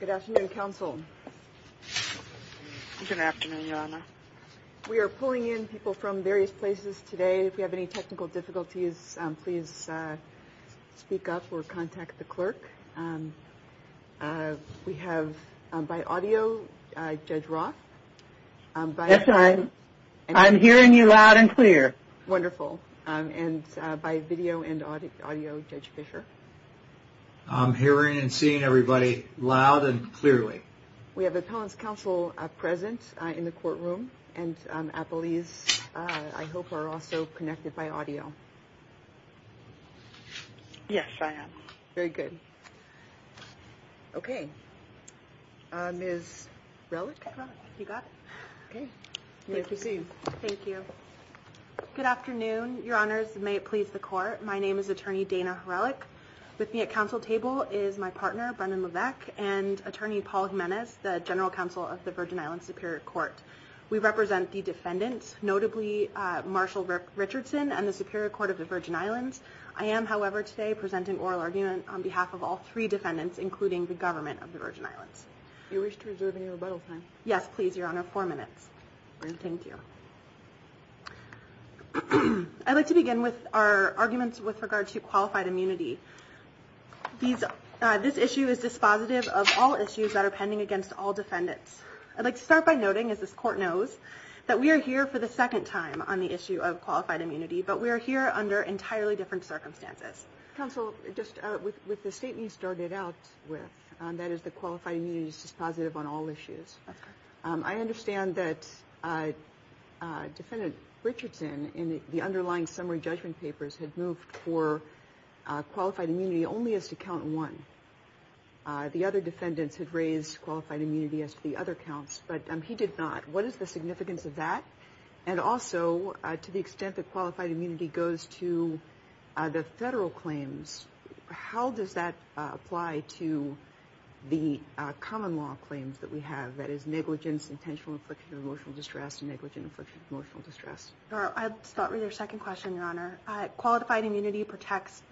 Good afternoon, counsel. Good afternoon, Your Honor. We are pulling in people from various places today. If you have any technical difficulties, please speak up or contact the clerk. We have, by audio, Judge Roth. Yes, I'm hearing you loud and clear. Wonderful. And by video and audio, Judge Fischer. I'm hearing and seeing everybody loud and clearly. We have a counsel present in the courtroom, and I believe, I hope, are also connected by audio. Yes, I am. Very good. Okay. Ms. Relick, you got it? Okay. Thank you. Thank you. Good afternoon, Your Honors, and may it please the Court. My name is Attorney Dana Relick. With me at counsel table is my partner, Brendan Levesque, and Attorney Paul Jimenez, the General Counsel of the Virgin Islands Superior Court. We represent the defendants, notably Marshall Rick Richardson and the Superior Court of the Virgin Islands. I am, however, today presenting oral arguments on behalf of all three defendants, including the government of the Virgin Islands. Do you wish to reserve any rebuttal time? Yes, please, Your Honor. Four minutes. Thank you. I'd like to begin with our arguments with regard to qualified immunity. This issue is dispositive of all issues that are pending against all defendants. I'd like to start by noting, as this Court knows, that we are here for the second time on the issue of qualified immunity, but we are here under entirely different circumstances. Counsel, just with the statement you started out with, that is the qualified immunity is dispositive on all issues. I understand that Defendant Richardson, in the underlying summary judgment papers, had moved for qualified immunity only as to count one. The other defendants had raised qualified immunity as to the other counts, but he did not. What is the significance of that? And also, to the extent that qualified immunity goes to the federal claims, how does that apply to the common law claims that we have? That is negligence, intentional infliction of emotional distress, and negligent infliction of emotional distress. I'd start with your second question, Your Honor. Qualified immunity protects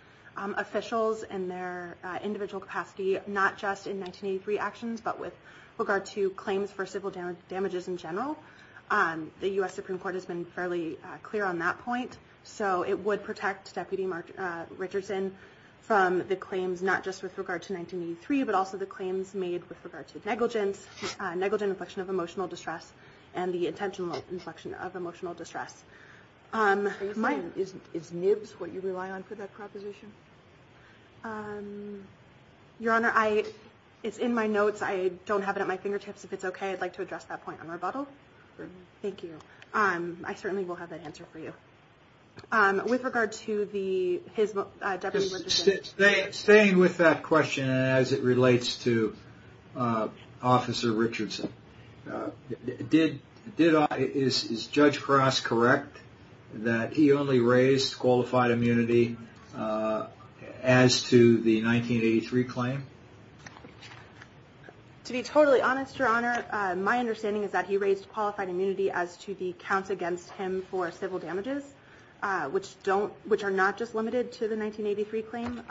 officials in their individual capacity, not just in 1983 actions, but with regard to claims for civil damages in general. The U.S. Supreme Court has been fairly clear on that point. So it would protect Deputy Mark Richardson from the claims, not just with regard to 1983, but also the claims made with regard to negligence, negligent inflection of emotional distress, and the intentional inflection of emotional distress. Is NIBS what you rely on for that proposition? Your Honor, it's in my notes. I don't have it at my fingertips. If it's okay, I'd like to address that point on rebuttal. Thank you. I certainly will have that answer for you. With regard to the... Staying with that question as it relates to Officer Richardson, is Judge Frost correct that he only raised qualified immunity as to the 1983 claim? To be totally honest, Your Honor, my understanding is that he raised qualified immunity as to the counts against him for civil damages, which are not just limited to the 1983 claim.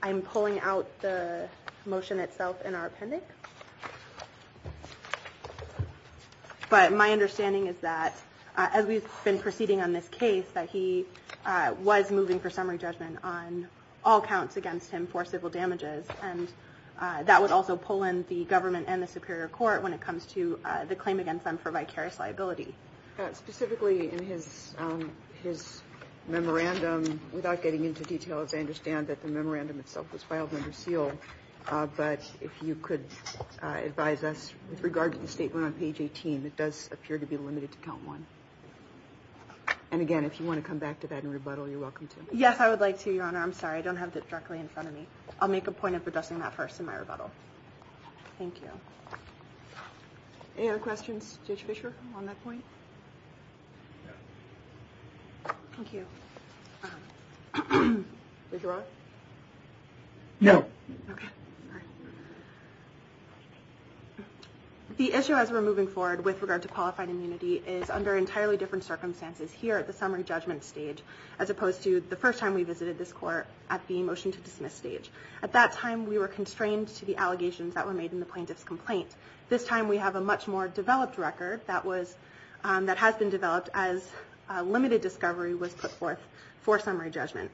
I'm pulling out the motion itself in our appendix. But my understanding is that, as we've been proceeding on this case, that he was moving for summary judgment on all counts against him for civil damages. And that would also pull in the government and the Superior Court when it comes to the claim against them for vicarious liability. Specifically in his memorandum, without getting into details, I understand that the memorandum itself was filed under seal. But if you could advise us, with regard to the statement on page 18, it does appear to be limited to count one. And again, if you want to come back to that in rebuttal, you're welcome to. Yes, I would like to, Your Honor. I'm sorry. I don't have it directly in front of me. I'll make a point of addressing that first in my rebuttal. Thank you. Any other questions to Judge Fischer on that point? Thank you. Judge Ross? No. Okay. The issue as we're moving forward with regard to qualified immunity is under entirely different circumstances here at the summary judgment stage, as opposed to the first time we visited this court at the motion to dismiss stage. At that time, we were constrained to the allegations that were made in the plaintiff's complaint. This time, we have a much more developed record that has been developed as limited discovery was put forth for summary judgment.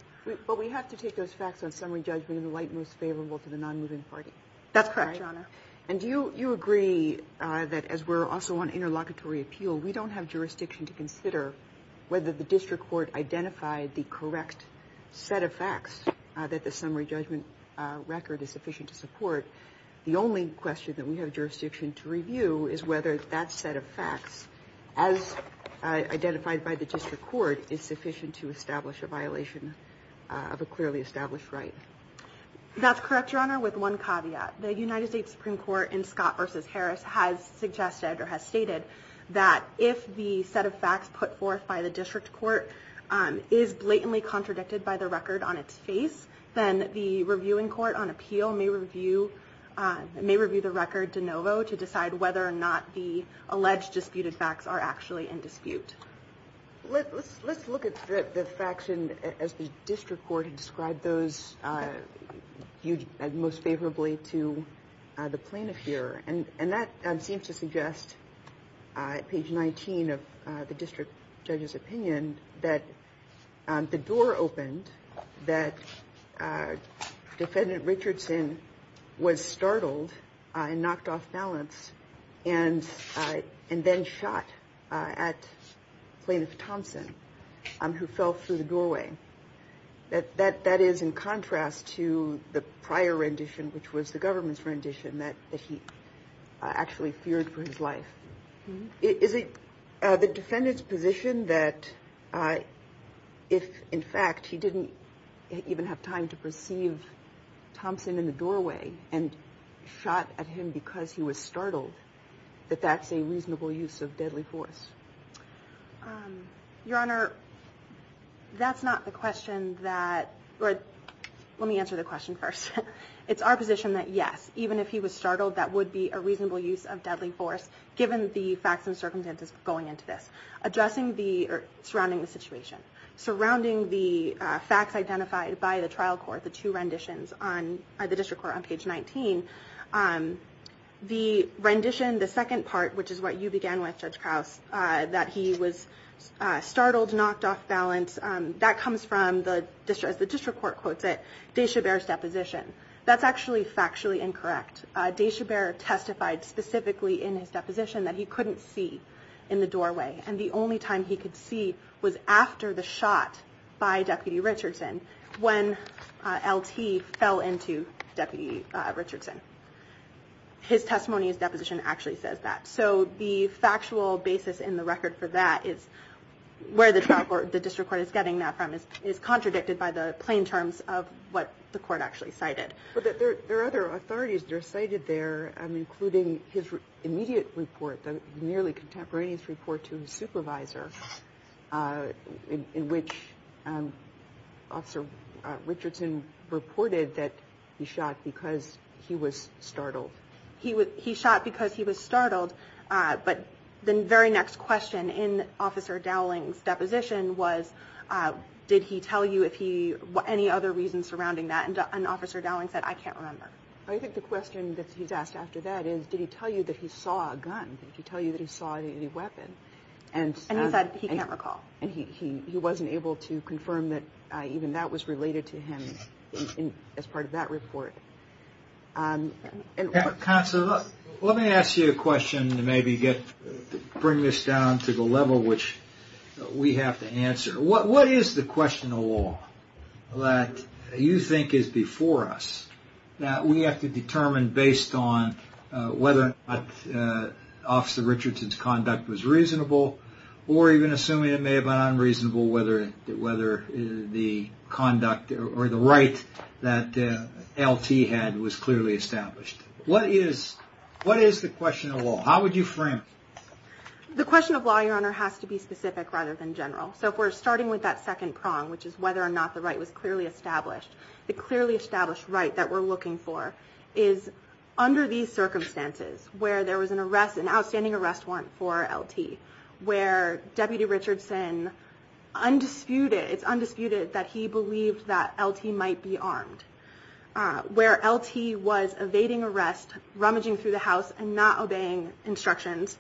That's correct, Your Honor. And do you agree that, as we're also on interlocutory appeal, we don't have jurisdiction to consider whether the district court identified the correct set of facts that the summary judgment record is sufficient to support? The only question that we have jurisdiction to review is whether that set of facts, as identified by the district court, is sufficient to establish a violation of a clearly established right. That's correct, Your Honor, with one caveat. The United States Supreme Court in Scott v. Harris has suggested, or has stated, that if the set of facts put forth by the district court is blatantly contradicted by the record on its face, then the reviewing court on appeal may review the record de novo to decide whether or not the alleged disputed facts are actually in dispute. Let's look at the facts as the district court described those most favorably to the plaintiff here. And that seems to suggest, at page 19 of the district judge's opinion, that the door opened, that Defendant Richardson was startled and knocked off balance, and then shot at Plaintiff Thompson, who fell through the doorway. That is in contrast to the prior rendition, which was the government's rendition, that he actually feared for his life. Is it the Defendant's position that if, in fact, he didn't even have time to perceive Thompson in the doorway and shot at him because he was startled, that that's a reasonable use of deadly force? Your Honor, that's not the question that – let me answer the question first. It's our position that, yes, even if he was startled, that would be a reasonable use of deadly force, given the facts and circumstances going into this. Surrounding the situation. Surrounding the facts identified by the trial court, the two renditions, by the district court on page 19. The rendition, the second part, which is what you began with, Judge Krause, that he was startled, knocked off balance, that comes from, as the district court quotes it, de Chabert's deposition. That's actually factually incorrect. De Chabert testified specifically in his deposition that he couldn't see in the doorway. And the only time he could see was after the shot by Deputy Richardson, when LT fell into Deputy Richardson. His testimony and deposition actually says that. So the factual basis in the record for that is where the district court is getting that from is contradicted by the plain terms of what the court actually cited. But there are other authorities that are cited there, including his immediate report, the nearly contemporaneous report to his supervisor, in which Officer Richardson reported that he shot because he was startled. He shot because he was startled, but the very next question in Officer Dowling's deposition was, did he tell you any other reasons surrounding that? And Officer Dowling said, I can't remember. I think the question that he's asked after that is, did he tell you that he saw a gun? Did he tell you that he saw a weapon? And he said he can't recall. And he wasn't able to confirm that even that was related to him as part of that report. Counsel, let me ask you a question and maybe bring this down to the level which we have to answer. What is the question of law that you think is before us that we have to determine based on whether Officer Richardson's conduct was reasonable or even assuming it may have been unreasonable, whether the conduct or the right that LT had was clearly established? What is the question of law? How would you frame it? The question of law, Your Honor, has to be specific rather than general. So if we're starting with that second prong, which is whether or not the right was clearly established, the clearly established right that we're looking for is under these circumstances, where there was an arrest, an outstanding arrest warrant for LT, where Deputy Richardson undisputed, it's undisputed that he believed that LT might be armed, where LT was evading arrest, rummaging through the house and not obeying instructions,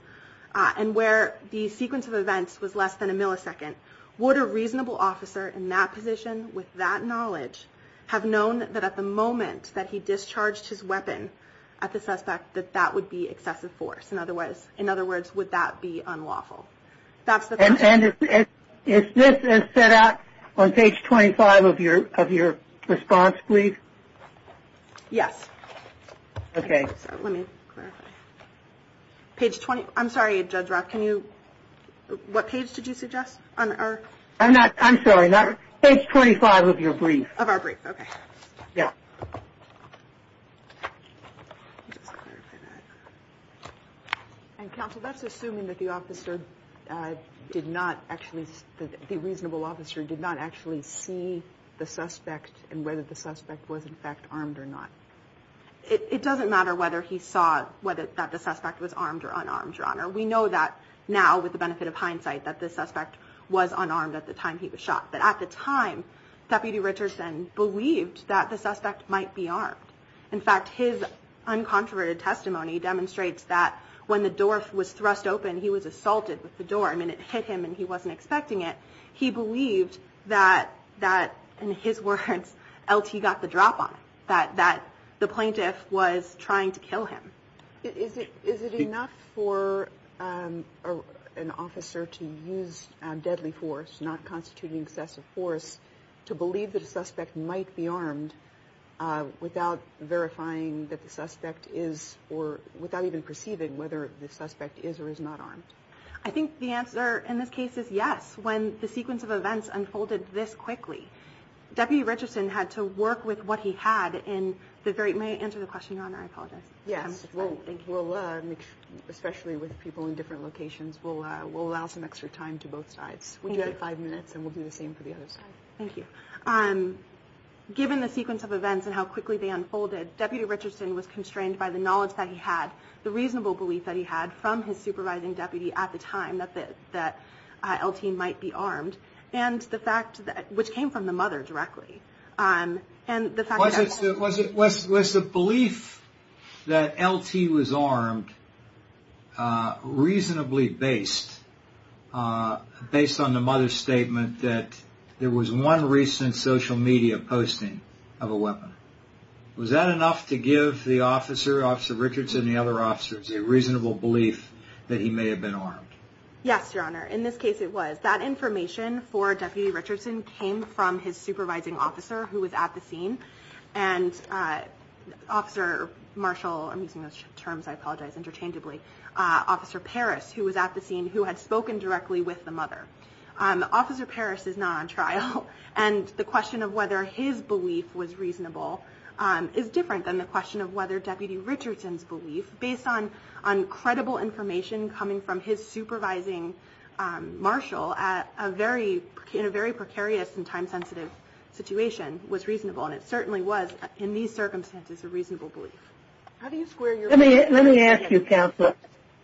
and where the sequence of events was less than a millisecond. Would a reasonable officer in that position with that knowledge have known that at the moment that he would be excessive force? In other words, would that be unlawful? If this is set out on page 25 of your response brief? Yes. Okay. Let me clarify. I'm sorry, Judge Roth. What page did you suggest? I'm sorry. Page 25 of your brief. Of our brief. Okay. Yes. Counsel, that's assuming that the officer did not actually, the reasonable officer did not actually see the suspect and whether the suspect was, in fact, armed or not. It doesn't matter whether he saw that the suspect was armed or unarmed, Your Honor. We know that now, with the benefit of hindsight, that the suspect was unarmed at the time he was shot. But at the time, Deputy Richardson believed that the suspect might be armed. In fact, his uncontroverted testimony demonstrates that when the door was thrust open, he was assaulted with the door. I mean, it hit him and he wasn't expecting it. He believed that, in his words, L.T. got the drop on him, that the plaintiff was trying to kill him. Is it enough for an officer to use deadly force, not constituting excessive force, to believe that a suspect might be armed without verifying that the suspect is, or without even perceiving whether the suspect is or is not armed? I think the answer in this case is yes, when the sequence of events unfolded this quickly. Deputy Richardson had to work with what he had in the very – may I answer the question, Your Honor? I apologize. Yeah, especially with people in different locations, we'll allow some extra time to both sides. We'll give you five minutes and we'll do the same for the other side. Thank you. Given the sequence of events and how quickly they unfolded, Deputy Richardson was constrained by the knowledge that he had, the reasonable belief that he had from his supervising deputy at the time that L.T. might be armed, and the fact that – which came from the mother directly. Was the belief that L.T. was armed reasonably based on the mother's statement that there was one recent social media posting of a weapon? Was that enough to give the officer, Officer Richardson and the other officers, a reasonable belief that he may have been armed? Yes, Your Honor, in this case it was. That information for Deputy Richardson came from his supervising officer who was at the scene, and Officer Marshall – I'm using those terms, I apologize, interchangeably – Officer Parrish, who was at the scene, who had spoken directly with the mother. Officer Parrish is not on trial, and the question of whether his belief was reasonable is different than the question of whether Deputy Richardson's belief, based on credible information coming from his supervising Marshall, in a very precarious and time-sensitive situation, was reasonable. And it certainly was, in these circumstances, a reasonable belief. Let me ask you, Counselor.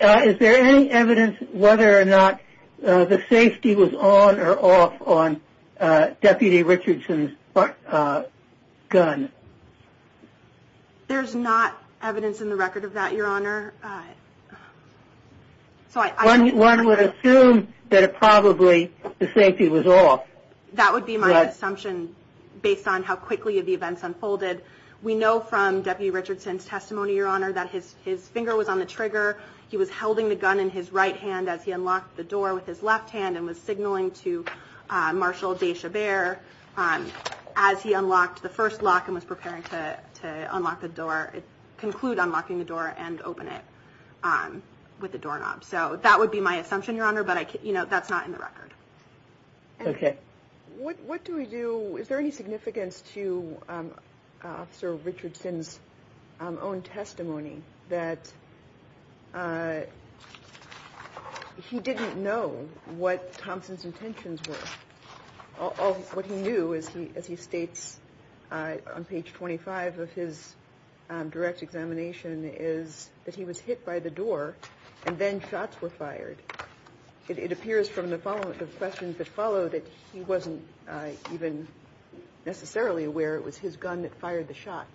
Is there any evidence whether or not the safety was on or off on Deputy Richardson's gun? There's not evidence in the record of that, Your Honor. One would assume that it probably – the safety was off. That would be my assumption, based on how quickly the events unfolded. We know from Deputy Richardson's testimony, Your Honor, that his finger was on the trigger, he was holding the gun in his right hand as he unlocked the door with his left hand and was signaling to Marshall de Chavert as he unlocked the first lock and was preparing to unlock the door – conclude unlocking the door and open it with the doorknob. So that would be my assumption, Your Honor, but that's not in the record. Okay. What do we do – is there any significance to Officer Richardson's own testimony that he didn't know what Thompson's intentions were? All he knew, as he states on page 25 of his direct examination, is that he was hit by the door and then shots were fired. It appears from the follow-up – the questions that followed that he wasn't even necessarily aware it was his gun that fired the shot.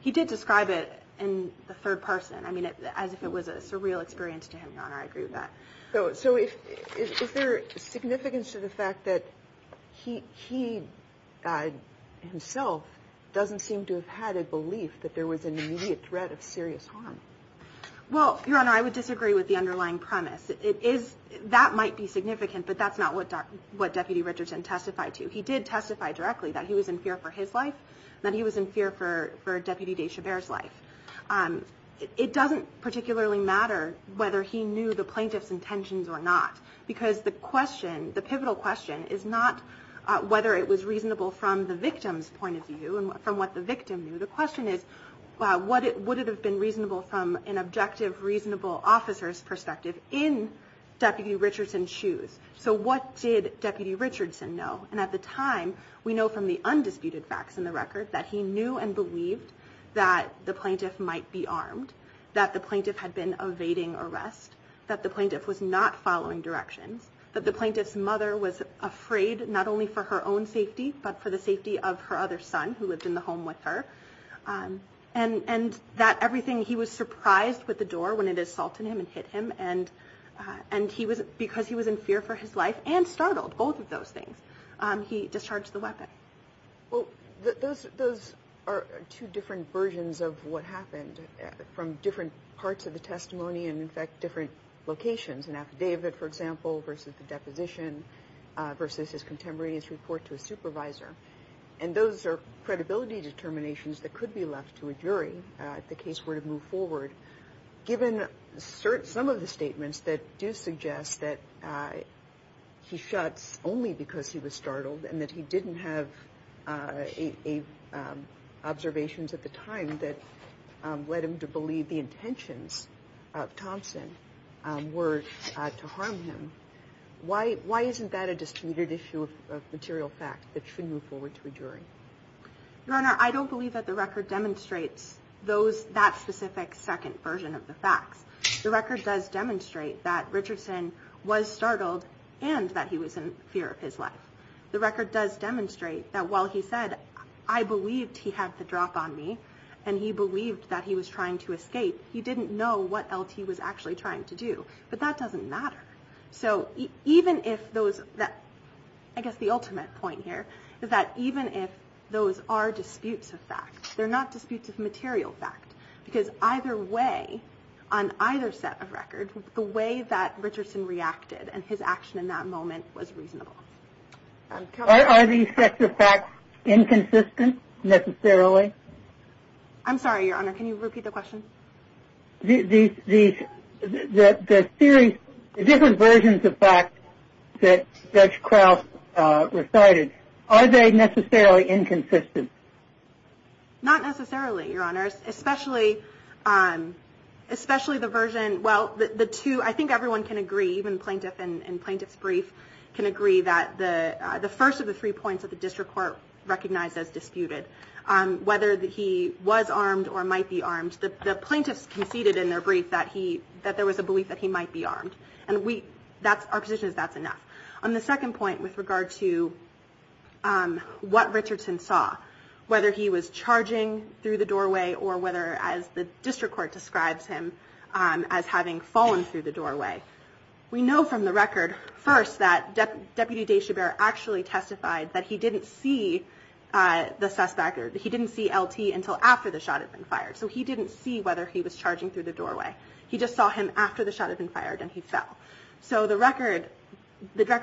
He did describe it in the third person as if it was a surreal experience to him, Your Honor. I agree with that. So is there significance to the fact that he himself doesn't seem to have had a belief that there was an immediate threat of serious harm? Well, Your Honor, I would disagree with the underlying premise. That might be significant, but that's not what Deputy Richardson testified to. He did testify directly that he was in fear for his life and that he was in fear for Deputy de Chabert's life. It doesn't particularly matter whether he knew the plaintiff's intentions or not, because the question – the pivotal question is not whether it was reasonable from the victim's point of view and from what the victim knew. The question is would it have been reasonable from an objective, reasonable officer's perspective in Deputy Richardson's shoes? So what did Deputy Richardson know? And at the time, we know from the undisputed facts in the record that he knew and believed that the plaintiff might be armed, that the plaintiff had been evading arrest, that the plaintiff was not following directions, that the plaintiff's mother was afraid not only for her own safety but for the safety of her other son who lived in the home with her, and that everything – he was surprised with the door when it assaulted him and hit him, and because he was in fear for his life and startled, both of those things, he discharged the weapon. Well, those are two different versions of what happened from different parts of the testimony and, in fact, different locations. An affidavit, for example, versus a deposition, versus his contemporaneous report to a supervisor. And those are credibility determinations that could be left to a jury if the case were to move forward. Given some of the statements that do suggest that he shot only because he was startled and that he didn't have observations at the time that led him to believe the intentions of Thompson were to harm him, why isn't that a disputed issue of material fact that should move forward to a jury? Your Honor, I don't believe that the record demonstrates that specific second version of the facts. The record does demonstrate that Richardson was startled and that he was in fear of his life. The record does demonstrate that while he said, I believed he had the drop on me and he believed that he was trying to escape, he didn't know what else he was actually trying to do, but that doesn't matter. So even if those – I guess the ultimate point here is that even if those are disputes of fact, they're not disputes of material fact, because either way, on either set of records, the way that Richardson reacted and his action in that moment was reasonable. Are these sets of facts inconsistent, necessarily? I'm sorry, Your Honor, can you repeat the question? The series – the different versions of facts that Judge Krauss recited, are they necessarily inconsistent? Not necessarily, Your Honor, especially the version – well, the two – I think everyone can agree, even plaintiff and plaintiff's brief can agree, that the first of the three points that the district court recognized as disputed, whether he was armed or might be armed, the plaintiff conceded in their brief that there was a belief that he might be armed, and our position is that's enough. On the second point, with regard to what Richardson saw, whether he was charging through the doorway, or whether, as the district court describes him, as having fallen through the doorway, we know from the record, first, that Deputy Deshabert actually testified that he didn't see the suspect, or he didn't see LT until after the shot had been fired. So he didn't see whether he was charging through the doorway. He just saw him after the shot had been fired, and he fell. So the record,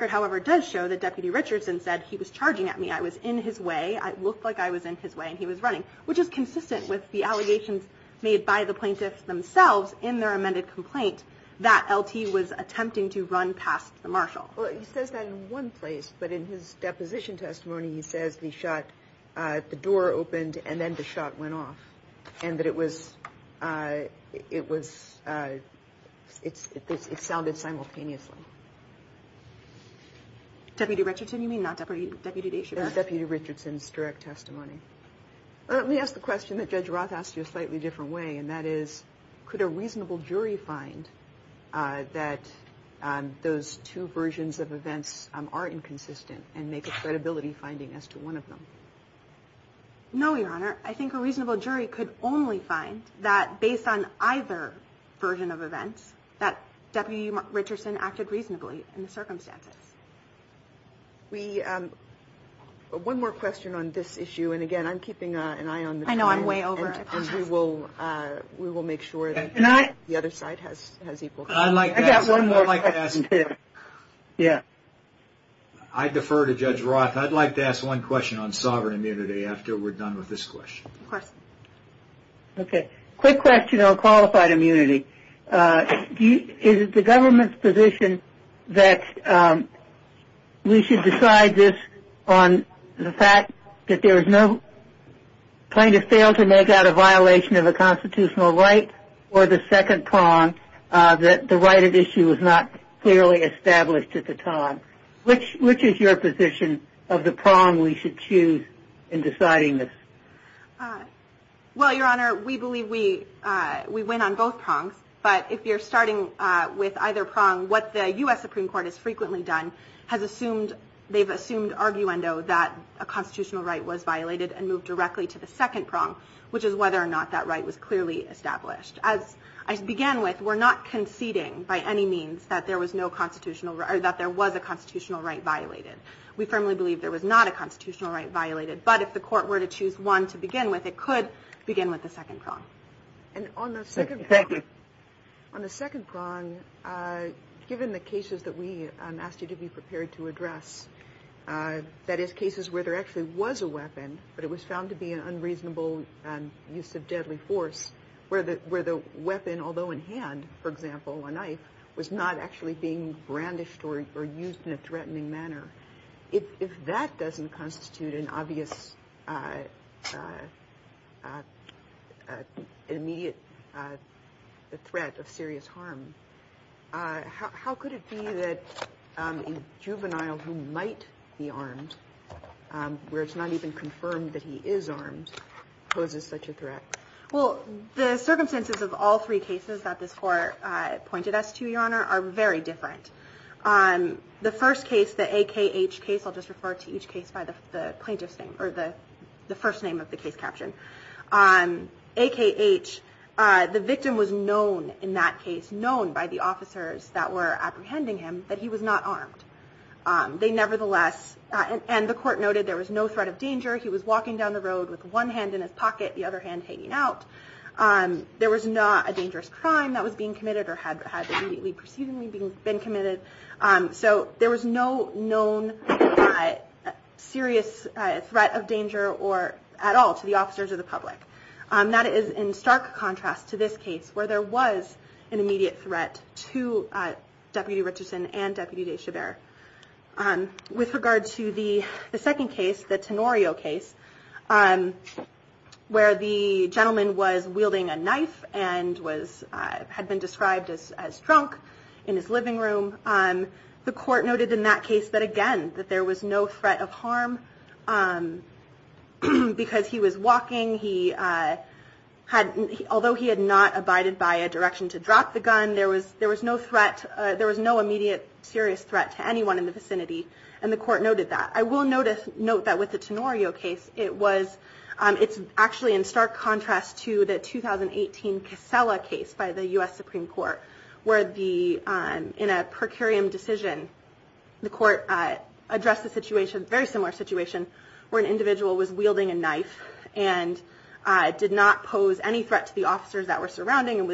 however, does show that Deputy Richardson said, he was charging at me, I was in his way, it looked like I was in his way, and he was running, which is consistent with the allegations made by the plaintiffs themselves in their amended complaint that LT was attempting to run past the marshal. Well, he says that in one place, but in his deposition testimony, he says he shot, the door opened, and then the shot went off, and that it was, it sounded simultaneously. Deputy Richardson, you mean, not Deputy Deshabert? Deputy Richardson's direct testimony. Let me ask the question that Judge Roth asked you a slightly different way, and that is, could a reasonable jury find that those two versions of events are inconsistent, and make a credibility finding as to one of them? No, Your Honor. I think a reasonable jury could only find that based on either version of events, that Deputy Richardson acted reasonably in the circumstances. One more question on this issue, and again, I'm keeping an eye on this. I know, I'm way over it. And we will make sure that the other side has equal credit. I'd like to ask one more question. Yeah. I defer to Judge Roth. I'd like to ask one question on sovereign immunity after we're done with this question. Okay. Quick question on qualified immunity. Is it the government's position that we should decide this on the fact that there is no claim to fail to make out a violation of a constitutional right, or the second prong, that the right at issue was not clearly established at the time? Which is your position of the prong we should choose in deciding this? Well, Your Honor, we believe we win on both prongs. But if you're starting with either prong, what the U.S. Supreme Court has frequently done, they've assumed arguendo that a constitutional right was violated and moved directly to the second prong, which is whether or not that right was clearly established. As I began with, we're not conceding by any means that there was a constitutional right violated. We firmly believe there was not a constitutional right violated. But if the court were to choose one to begin with, it could begin with the second prong. Thank you. On the second prong, given the cases that we asked you to be prepared to address, that is, cases where there actually was a weapon, but it was found to be an unreasonable use of deadly force, where the weapon, although in hand, for example, a knife, was not actually being brandished or used in a threatening manner, if that doesn't constitute an obvious immediate threat of serious harm, how could it be that a juvenile who might be armed, where it's not even confirmed that he is armed, poses such a threat? Well, the circumstances of all three cases that the court pointed us to, Your Honor, are very different. The first case, the AKH case, I'll just refer to each case by the plaintiff's name, or the first name of the case caption. AKH, the victim was known in that case, known by the officers that were apprehending him, that he was not armed. They nevertheless, and the court noted there was no threat of danger. He was walking down the road with one hand in his pocket, the other hand hanging out. There was not a dangerous crime that was being committed or had been committed. So there was no known serious threat of danger at all to the officers or the public. That is in stark contrast to this case, where there was an immediate threat to Deputy Richardson and Deputy de Chabert. With regard to the second case, the Tenorio case, where the gentleman was wielding a knife and had been described as drunk in his living room, the court noted in that case that, again, there was no threat of harm because he was walking. Although he had not abided by a direction to drop the gun, there was no immediate serious threat to anyone in the vicinity, and the court noted that. I will note that with the Tenorio case, it's actually in stark contrast to the 2018 Casella case by the U.S. Supreme Court, where in a per curiam decision, the court addressed a situation, a very similar situation, where an individual was wielding a knife and did not pose any threat to the officers that were surrounding him,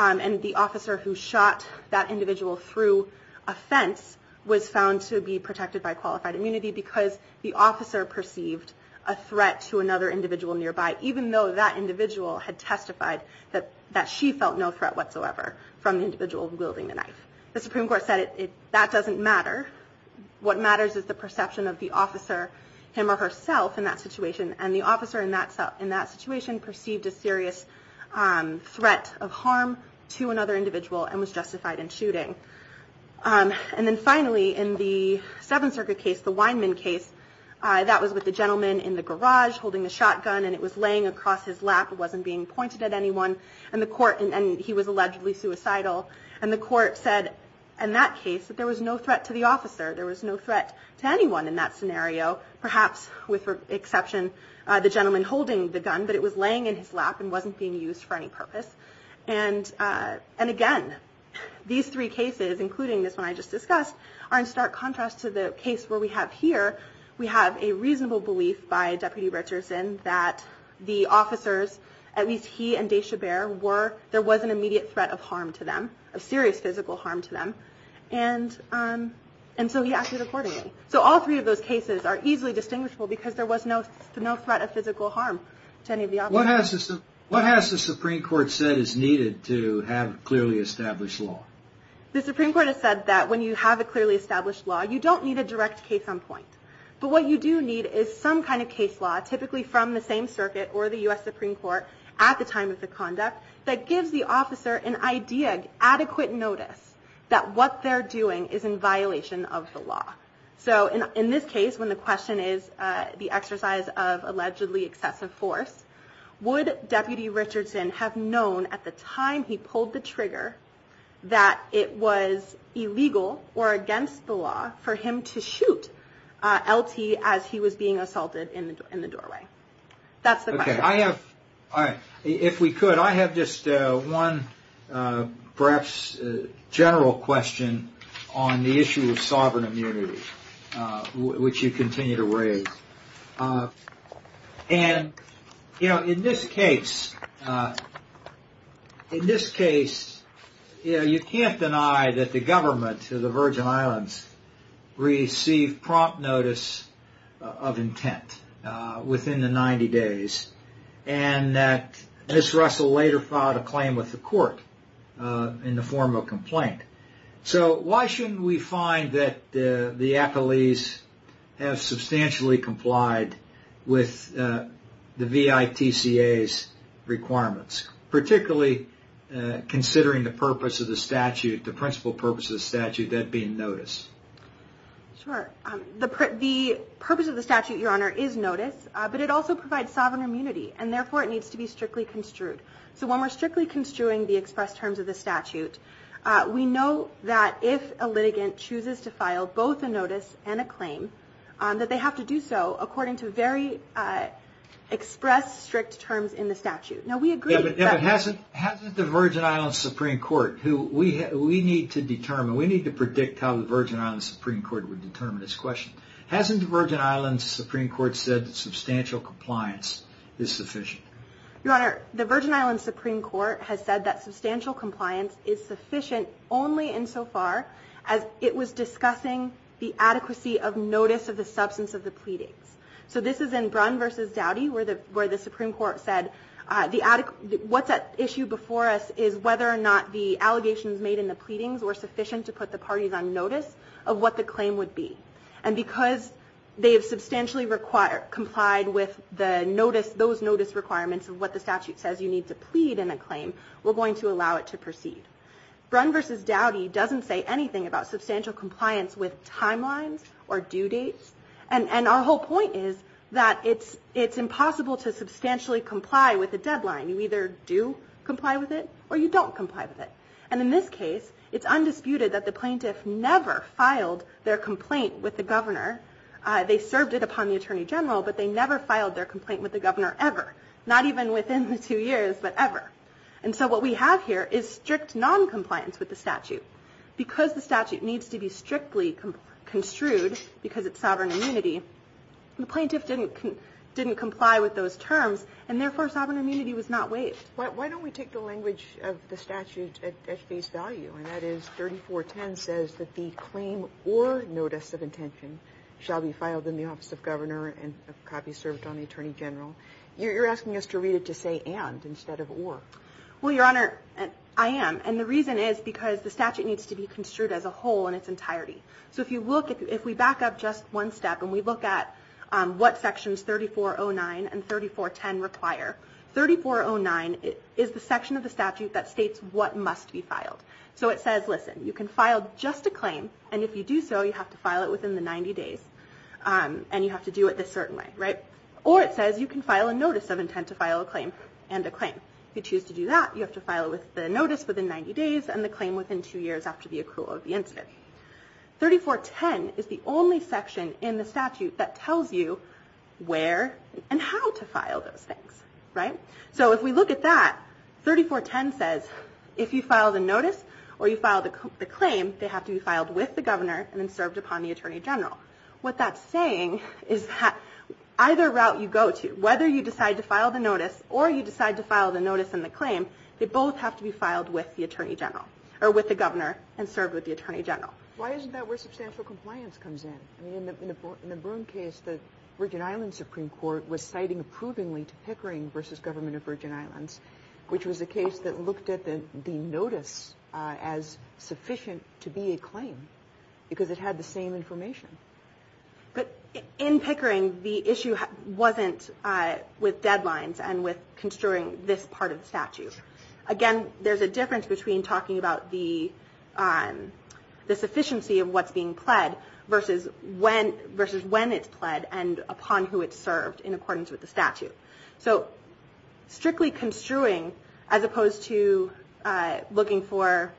and the officer who shot that individual through a fence was found to be protected by qualified immunity because the officer perceived a threat to another individual nearby, even though that individual had testified that she felt no threat whatsoever from the individual wielding the knife. The Supreme Court said that doesn't matter. What matters is the perception of the officer, him or herself, in that situation, and the officer in that situation perceived a serious threat of harm to another individual and was justified in shooting. And then finally, in the Seventh Circuit case, the Weinman case, that was with a gentleman in the garage holding a shotgun, and it was laying across his lap. It wasn't being pointed at anyone, and he was allegedly suicidal, and the court said in that case that there was no threat to the officer. There was no threat to anyone in that scenario, perhaps with the exception of the gentleman holding the gun, but it was laying in his lap and wasn't being used for any purpose. And again, these three cases, including this one I just discussed, are in stark contrast to the case where we have here, we have a reasonable belief by Deputy Richardson that the officers, at least he and Deshabert, there was an immediate threat of harm to them, of serious physical harm to them. And so he acted accordingly. So all three of those cases are easily distinguishable because there was no threat of physical harm to any of the officers. What has the Supreme Court said is needed to have clearly established law? The Supreme Court has said that when you have a clearly established law, you don't need a direct case on point. But what you do need is some kind of case law, typically from the same circuit or the U.S. Supreme Court, at the time of the conduct, that gives the officer an idea, adequate notice, that what they're doing is in violation of the law. So in this case, when the question is the exercise of allegedly excessive force, would Deputy Richardson have known at the time he pulled the trigger that it was illegal or against the law for him to shoot LT as he was being assaulted in the doorway? That's the question. I have, if we could, I have just one perhaps general question on the issue of sovereign immunity, which you continue to raise. And, you know, in this case, in this case, you know, you can't deny that the government of the Virgin Islands received prompt notice of intent within the 90 days, and that Ms. Russell later filed a claim with the court in the form of complaint. So why shouldn't we find that the appellees have substantially complied with the VITCA's requirements, particularly considering the purpose of the statute, the principal purpose of the statute, that being notice? Sure. The purpose of the statute, Your Honor, is notice, but it also provides sovereign immunity, and therefore it needs to be strictly construed. So when we're strictly construing the express terms of the statute, we know that if a litigant chooses to file both a notice and a claim, that they have to do so according to very express, strict terms in the statute. No, we agree. But hasn't the Virgin Islands Supreme Court, who we need to determine, we need to predict how the Virgin Islands Supreme Court would determine this question. Hasn't the Virgin Islands Supreme Court said that substantial compliance is sufficient? Your Honor, the Virgin Islands Supreme Court has said that substantial compliance is sufficient only insofar as it was discussing the adequacy of notice of the substance of the pleading. So this is in Brunn v. Dowdy where the Supreme Court said, what's at issue before us is whether or not the allegations made in the pleadings were sufficient to put the parties on notice of what the claim would be. And because they have substantially complied with the notice, those notice requirements of what the statute says you need to plead in a claim, we're going to allow it to proceed. Brunn v. Dowdy doesn't say anything about substantial compliance with timelines or due dates. And our whole point is that it's impossible to substantially comply with a deadline. You either do comply with it or you don't comply with it. And in this case, it's undisputed that the plaintiff never filed their complaint with the governor. They served it upon the Attorney General, but they never filed their complaint with the governor ever. Not even within the two years, but ever. And so what we have here is strict noncompliance with the statute. Because the statute needs to be strictly construed because it's sovereign immunity, the plaintiff didn't comply with those terms, and therefore sovereign immunity was not waived. Why don't we take the language of the statute at face value, and that is 3410 says that the claim or notice of intention shall be filed in the office of governor and a copy served on the Attorney General. You're asking us to read it to say and instead of or. Well, Your Honor, I am. And the reason is because the statute needs to be construed as a whole in its entirety. So if you look, if we back up just one step and we look at what sections 3409 and 3410 require, 3409 is the section of the statute that states what must be filed. So it says, listen, you can file just a claim, and if you do so, you have to file it within the 90 days, and you have to do it this certain way, right? Or it says you can file a notice of intent to file a claim and a claim. If you choose to do that, you have to file the notice within 90 days and the claim within two years after the accrual of the incident. 3410 is the only section in the statute that tells you where and how to file those things, right? So if we look at that, 3410 says if you filed a notice or you filed a claim, they have to be filed with the governor and then served upon the Attorney General. What that's saying is that either route you go to, whether you decide to file the notice or you decide to file the notice and the claim, they both have to be filed with the Attorney General or with the governor and served with the Attorney General. Why isn't that where substantial compliance comes in? I mean, in the Byrne case, the Virgin Islands Supreme Court was citing approvingly to Pickering v. Government of Virgin Islands, which was a case that looked at the notice as sufficient to be a claim because it had the same information. But in Pickering, the issue wasn't with deadlines and with construing this part of the statute. Again, there's a difference between talking about the sufficiency of what's being pled versus when it's pled and upon who it's served in accordance with the statute. So strictly construing as opposed to looking for,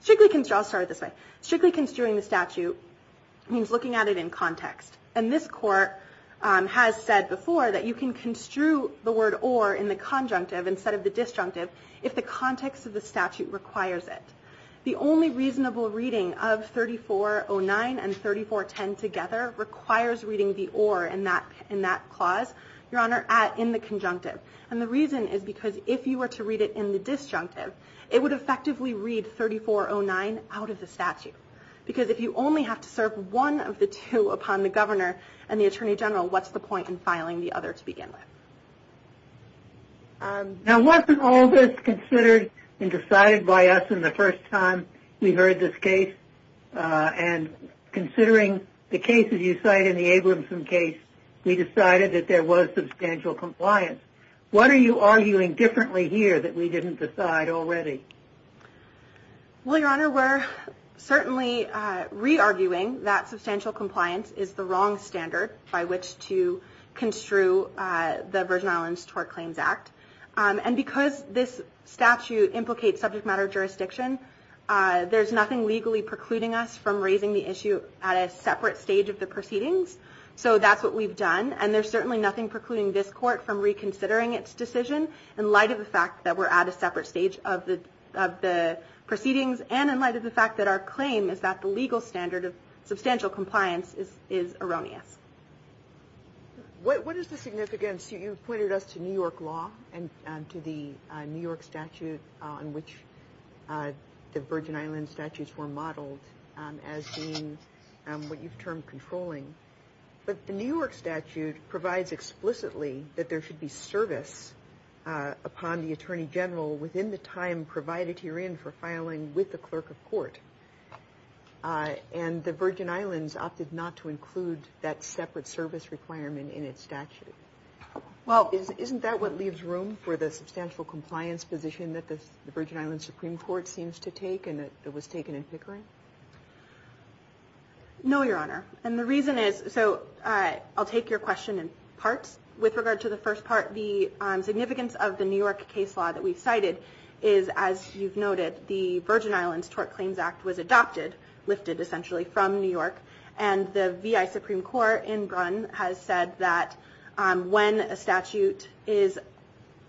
strictly construing the statute means looking at it in context. And this court has said before that you can construe the word or in the conjunctive instead of the disjunctive if the context of the statute requires it. The only reasonable reading of 3409 and 3410 together requires reading the or in that clause. Your Honor, in the conjunctive. And the reason is because if you were to read it in the disjunctive, it would effectively read 3409 out of the statute. Because if you only have to serve one of the two upon the Governor and the Attorney General, what's the point in filing the other to begin with? Now wasn't all this considered and decided by us in the first time we heard this case? And considering the cases you cite in the Abramson case, we decided that there was substantial compliance. What are you arguing differently here that we didn't decide already? Well, Your Honor, we're certainly re-arguing that substantial compliance is the wrong standard by which to construe the Virgin Islands Tort Claims Act. And because this statute implicates subject matter jurisdiction, there's nothing legally precluding us from raising the issue at a separate stage of the proceedings. So that's what we've done. And there's certainly nothing precluding this court from reconsidering its decision in light of the fact that we're at a separate stage of the proceedings and in light of the fact that our claim is that the legal standard of substantial compliance is erroneous. What is the significance? You pointed us to New York law and to the New York statute on which the Virgin Islands statutes were modeled as being what you've termed controlling. But the New York statute provides explicitly that there should be service upon the Attorney General within the time provided herein for filing with the clerk of court. And the Virgin Islands opted not to include that separate service requirement in its statute. Well, isn't that what leaves room for the substantial compliance position that the Virgin Islands Supreme Court seems to take and that was taken in Hickory? No, Your Honor. And the reason is, so I'll take your question in parts. With regard to the first part, the significance of the New York case law that we cited is, as you've noted, that the Virgin Islands Tort Claims Act was adopted, lifted essentially from New York, and the V.I. Supreme Court in Brun has said that when a statute is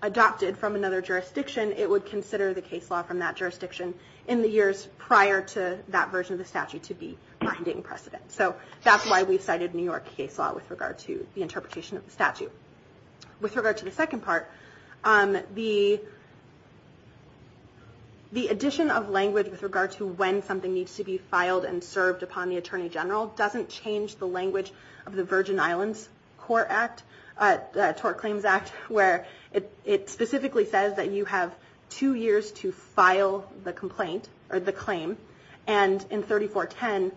adopted from another jurisdiction, it would consider the case law from that jurisdiction in the years prior to that version of the statute to be binding precedent. So that's why we cited New York case law with regard to the interpretation of the statute. With regard to the second part, the addition of language with regard to when something needs to be filed and served upon the Attorney General doesn't change the language of the Virgin Islands Tort Claims Act where it specifically says that you have two years to file the complaint or the claim, and in 3410,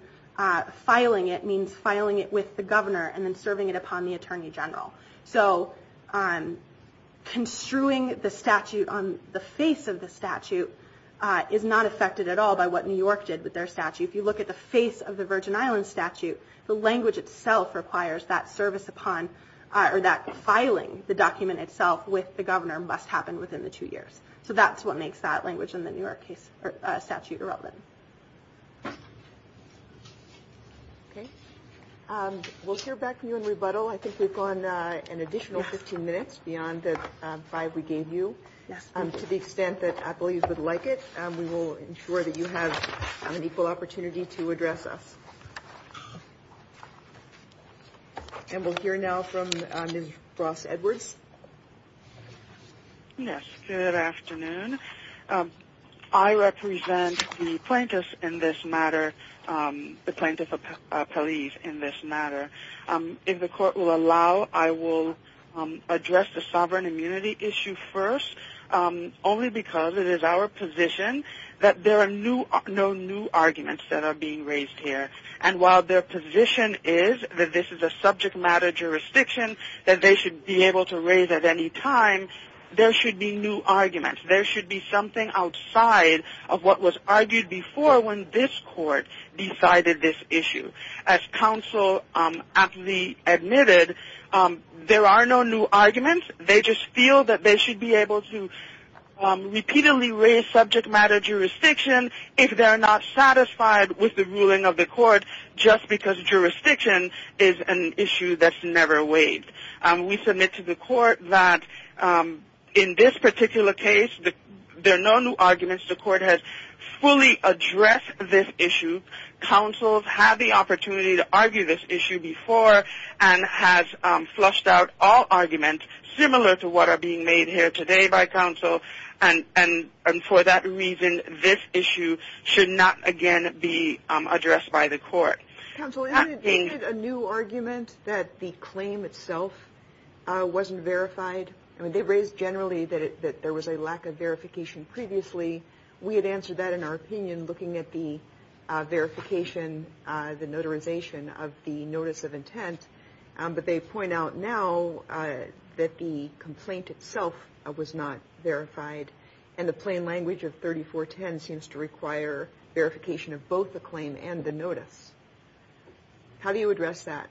filing it means filing it with the governor and then serving it upon the Attorney General. So construing the statute on the face of the statute is not affected at all by what New York did with their statute. If you look at the face of the Virgin Islands statute, the language itself requires that service upon or that filing the document itself with the governor must happen within the two years. So that's what makes that language in the New York case statute relevant. We'll hear back from you in rebuttal. I think we've gone an additional 15 minutes beyond the five we gave you. To the extent that I believe you would like it, we will ensure that you have an equal opportunity to address us. And we'll hear now from Ms. Ross Edwards. Yes, good afternoon. I represent the plaintiffs in this matter, the plaintiff appellees in this matter. If the court will allow, I will address the sovereign immunity issue first only because it is our position that there are no new arguments that are being raised here, and while their position is that this is a subject matter jurisdiction that they should be able to raise at any time, there should be new arguments. There should be something outside of what was argued before when this court decided this issue. As counsel aptly admitted, there are no new arguments. They just feel that they should be able to repeatedly raise subject matter jurisdiction if they're not satisfied with the ruling of the court just because jurisdiction is an issue that's never waived. We submit to the court that in this particular case, there are no new arguments. The court has fully addressed this issue. Counsel have the opportunity to argue this issue before and have flushed out all arguments similar to what are being made here today by counsel. For that reason, this issue should not again be addressed by the court. Counsel, isn't it a new argument that the claim itself wasn't verified? They've raised generally that there was a lack of verification previously. We had answered that in our opinion looking at the verification, the notarization of the notice of intent, but they point out now that the complaint itself was not verified and the plain language of 3410 seems to require verification of both the claim and the notice. How do you address that?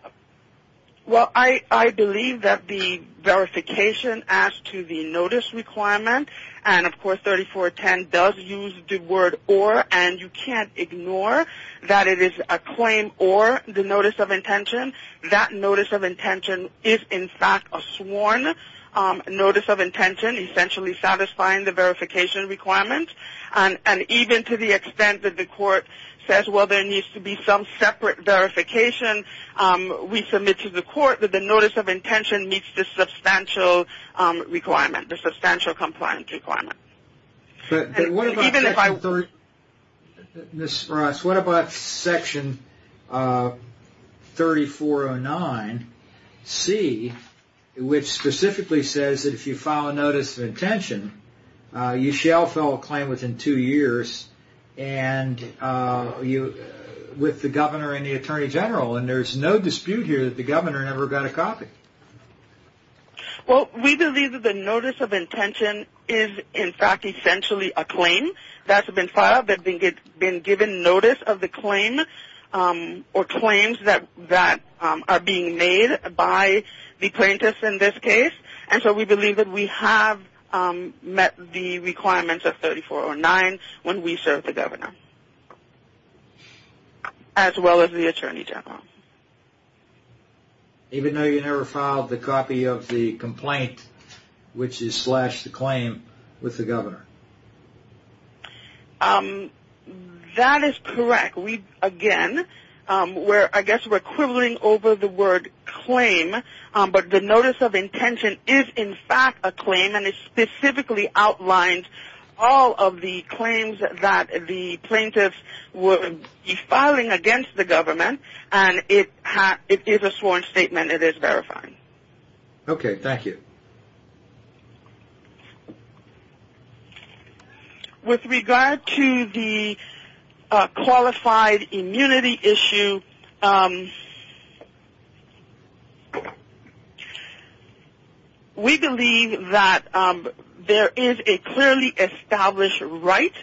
Well, I believe that the verification as to the notice requirement, and of course 3410 does use the word or, and you can't ignore that it is a claim or the notice of intention. That notice of intention is in fact a sworn notice of intention essentially satisfying the verification requirement. And even to the extent that the court says, well, there needs to be some separate verification, we submit to the court that the notice of intention meets the substantial requirement, the substantial compliance requirement. But what about Section 3409C, which specifically says that if you file a notice of intention, you shall fill a claim within two years with the governor and the attorney general, and there's no dispute here that the governor never got a copy. Well, we believe that the notice of intention is in fact essentially a claim that's been filed, that's been given notice of the claim or claims that are being made by the plaintiffs in this case, and so we believe that we have met the requirements of 3409 when we serve the governor as well as the attorney general. Even though you never filed the copy of the complaint, which is slash the claim with the governor? That is correct. Again, I guess we're quibbling over the word claim, but the notice of intention is in fact a claim, and it specifically outlines all of the claims that the plaintiffs would be filing against the government, and it is a sworn statement. It is verifying. Okay, thank you. With regard to the qualified immunity issue, we believe that there is a clearly established right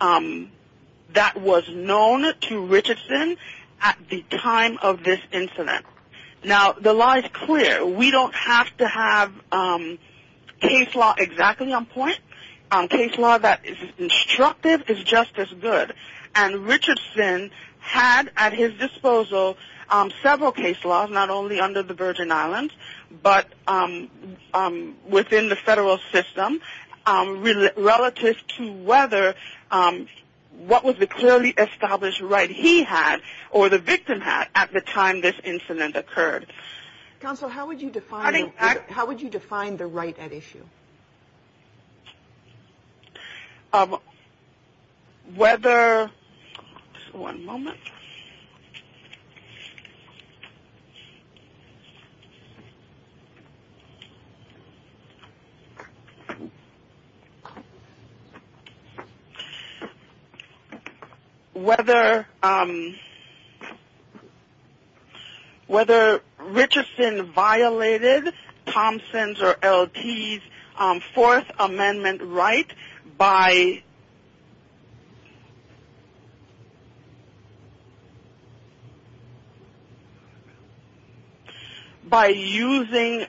that was known to Richardson at the time of this incident. Now, the law is clear. We don't have to have case law exactly on point. Case law that is instructive is just as good, and Richardson had at his disposal several case laws, not only under the Virgin Islands, but within the federal system relative to whether what was the clearly established right he had or the victim had at the time this incident occurred. Counsel, how would you define the right at issue? Thank you. One moment. One moment. By using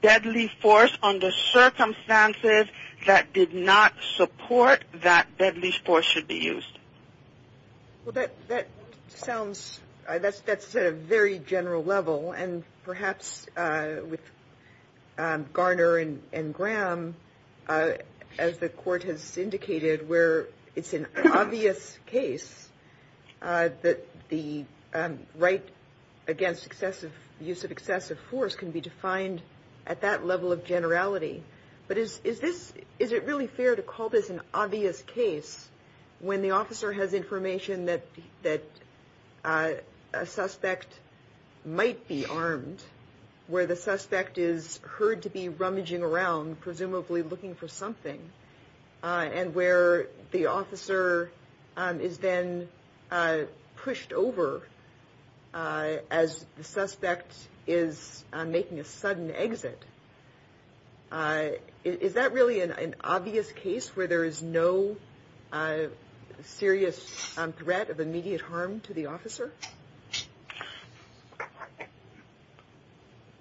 deadly force under circumstances that did not support that deadly force should be used. Well, that sounds at a very general level, and perhaps with Garner and Graham, as the court has indicated, where it's an obvious case that the right against excessive use of excessive force can be defined at that level of generality. But is it really fair to call this an obvious case when the officer has information that a suspect might be armed, where the suspect is heard to be rummaging around, presumably looking for something, and where the officer is then pushed over as the suspect is making a sudden exit? Is that really an obvious case where there is no serious threat of immediate harm to the officer?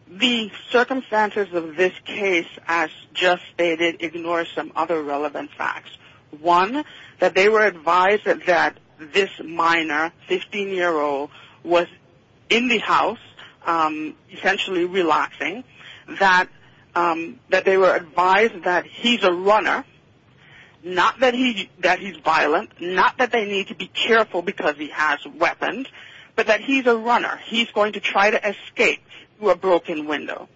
The circumstances of this case, as just stated, ignore some other relevant facts. One, that they were advised that this minor, 15-year-old, was in the house, essentially relaxing, that they were advised that he's a runner, not that he's violent, not that they need to be careful because he has weapons, but that he's a runner. He's going to try to escape through a broken window.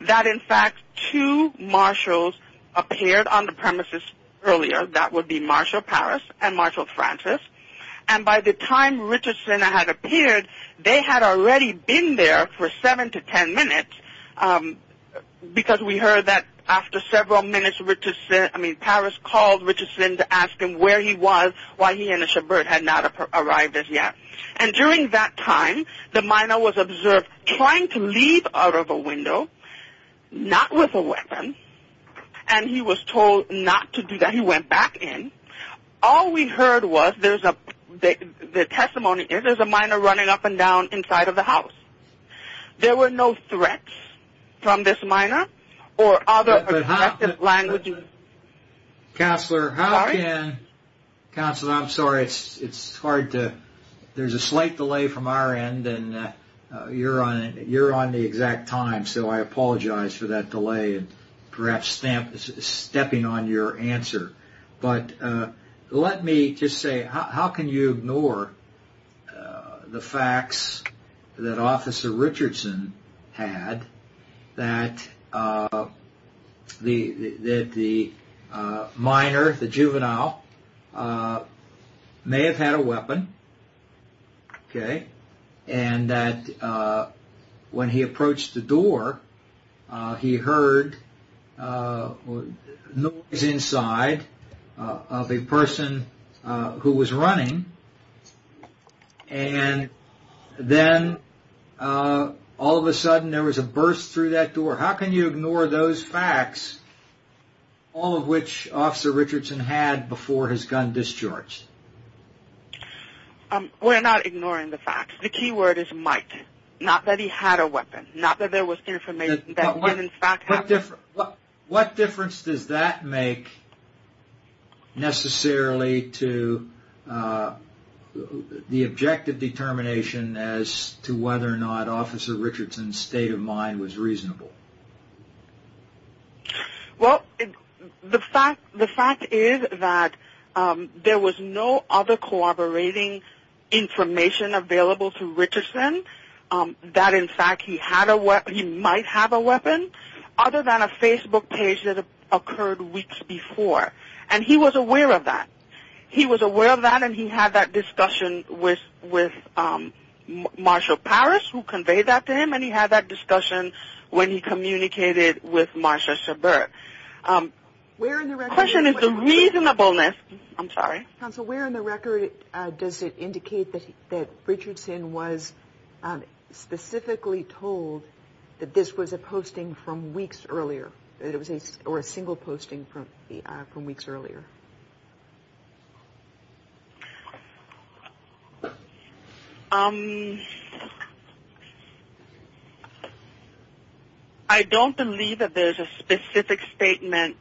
That, in fact, two marshals appeared on the premises earlier. That would be Marshal Paris and Marshal Francis. And by the time Richardson had appeared, they had already been there for seven to ten minutes, because we heard that after several minutes, Paris called Richardson to ask him where he was, why he and a shepherd had not arrived as yet. And during that time, the minor was observed trying to leave out of a window, not with a weapon, and he was told not to do that. He went back in. All we heard was, the testimony is, there's a minor running up and down inside of the house. There were no threats from this minor or other aggressive language. Counselor, how can... Sorry? Counselor, I'm sorry. It's hard to... There's a slight delay from our end, and you're on the exact time, so I apologize for that delay and perhaps stepping on your answer. But let me just say, how can you ignore the facts that Officer Richardson had that the minor, the juvenile, may have had a weapon, okay, and that when he approached the door, he heard noise inside of a person who was running, and then all of a sudden there was a burst through that door? How can you ignore those facts, all of which Officer Richardson had before his gun discharge? We're not ignoring the facts. The key word is might, not that he had a weapon, not that there was information that he did in fact have a weapon. What difference does that make necessarily to the objective determination as to whether or not Officer Richardson's state of mind was reasonable? Well, the fact is that there was no other corroborating information available to Richardson that in fact he might have a weapon other than a Facebook page that occurred weeks before, and he was aware of that. He was aware of that, and he had that discussion with Marshal Paris, who conveyed that to him, and he had that discussion when he communicated with Marshal Sabur. The question is the reasonableness. I'm sorry. Counsel, where in the record does it indicate that Richardson was specifically told that this was a posting from weeks earlier, or a single posting from weeks earlier? I don't believe that there's a specific statement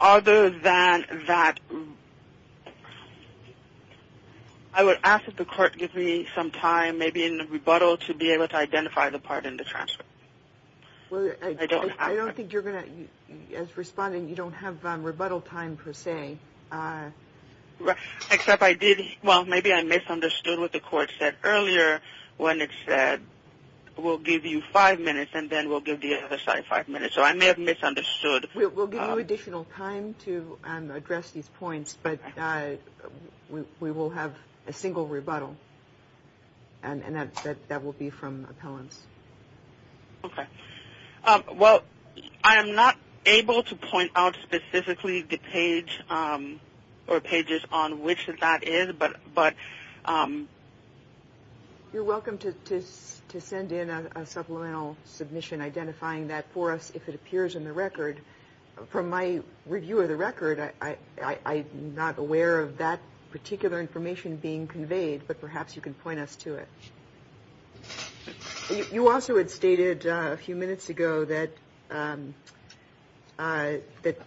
other than that. I would ask that the court give me some time, maybe in rebuttal, to be able to identify the part in the transcript. I don't think you're going to, as responding, you don't have rebuttal time per se. Except I did, well, maybe I misunderstood what the court said earlier when it said we'll give you five minutes, and then we'll give the other side five minutes. So I may have misunderstood. We'll give you additional time to address these points, but we will have a single rebuttal, and that will be from appellants. Okay. Well, I am not able to point out specifically the page or pages on which that is, but... You're welcome to send in a supplemental submission identifying that for us if it appears in the record. From my review of the record, I'm not aware of that particular information being conveyed, but perhaps you can point us to it. You also had stated a few minutes ago that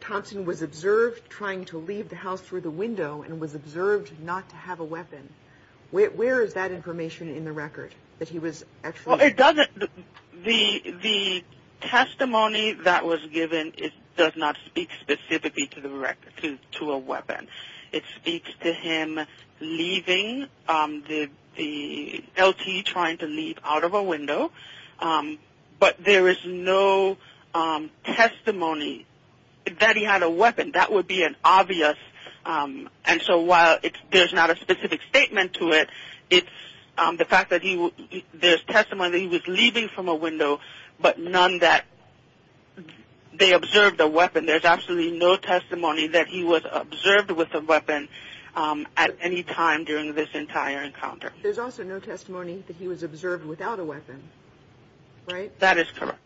Thompson was observed trying to leave the house through the window and was observed not to have a weapon. Where is that information in the record, that he was actually... Well, it doesn't... The testimony that was given does not speak specifically to a weapon. It speaks to him leaving, the LT trying to leave out of a window, but there is no testimony that he had a weapon. That would be an obvious... And so while there's not a specific statement to it, it's the fact that there's testimony that he was leaving from a window, but none that they observed a weapon. There's absolutely no testimony that he was observed with a weapon at any time during this entire encounter. There's also no testimony that he was observed without a weapon, right? That is correct.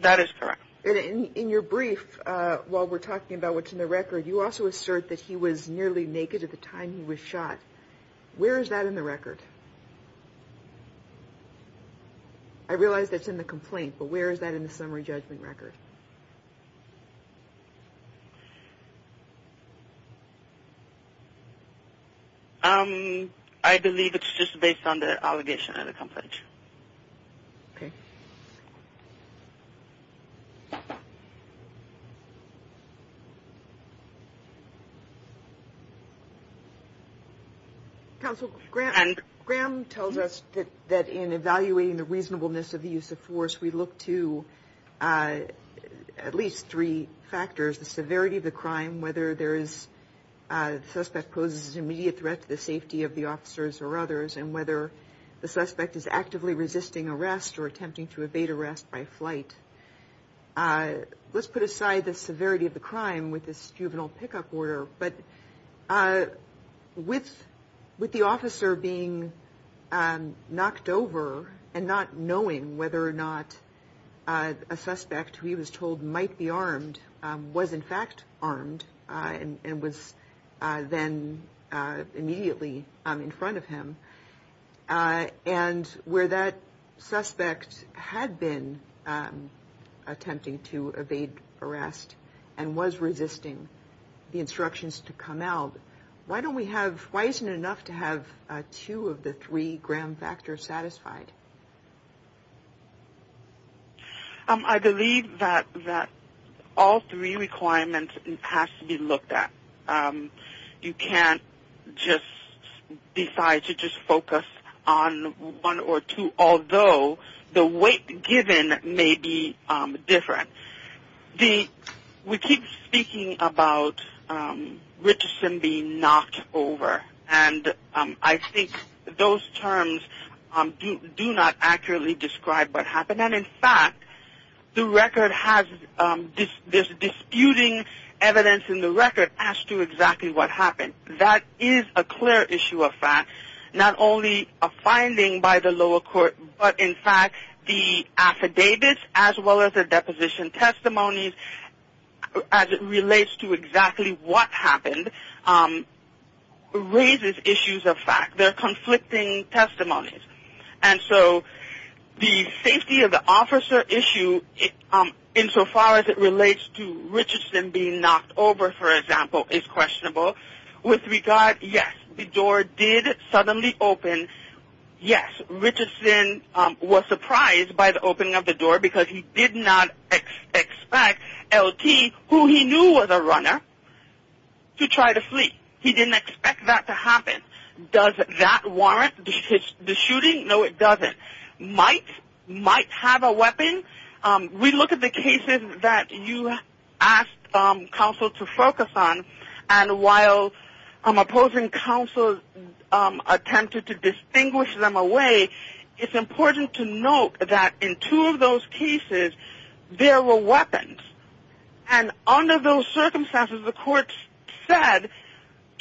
That is correct. In your brief, while we're talking about what's in the record, you also assert that he was nearly naked at the time he was shot. Where is that in the record? I realize that's in the complaint, but where is that in the summary judgment record? I believe it's just based on the allegation in the complaint. Okay. Counsel, Graham tells us that in evaluating the reasonableness of the use of force, we look to at least three factors, the severity of the crime, whether the suspect poses an immediate threat to the safety of the officers or others, and whether the suspect is actively resisting arrest or attempting to evade arrest by flight. Let's put aside the severity of the crime with this juvenile pickup order, but with the officer being knocked over and not knowing whether or not a suspect who he was told might be armed was, in fact, armed and was then immediately in front of him, and where that suspect had been attempting to evade arrest and was resisting the instructions to come out, why isn't it enough to have two of the three Graham factors satisfied? I believe that all three requirements have to be looked at. You can't just decide to just focus on one or two, although the weight given may be different. We keep speaking about Richardson being knocked over, and I think those terms do not accurately describe what happened, and that, in fact, the record has this disputing evidence in the record as to exactly what happened. That is a clear issue of fact, not only a finding by the lower court, but, in fact, the affidavits as well as the deposition testimonies as it relates to exactly what happened raises issues of fact. They're conflicting testimonies, and so the safety of the officer issue, insofar as it relates to Richardson being knocked over, for example, is questionable. With regard, yes, the door did suddenly open. Yes, Richardson was surprised by the opening of the door because he did not expect LT, who he knew was a runner, to try to flee. He didn't expect that to happen. Does that warrant the shooting? No, it doesn't. Mights have a weapon. We look at the cases that you asked counsel to focus on, and while opposing counsel attempted to distinguish them away, it's important to note that in two of those cases there were weapons, and under those circumstances the courts said,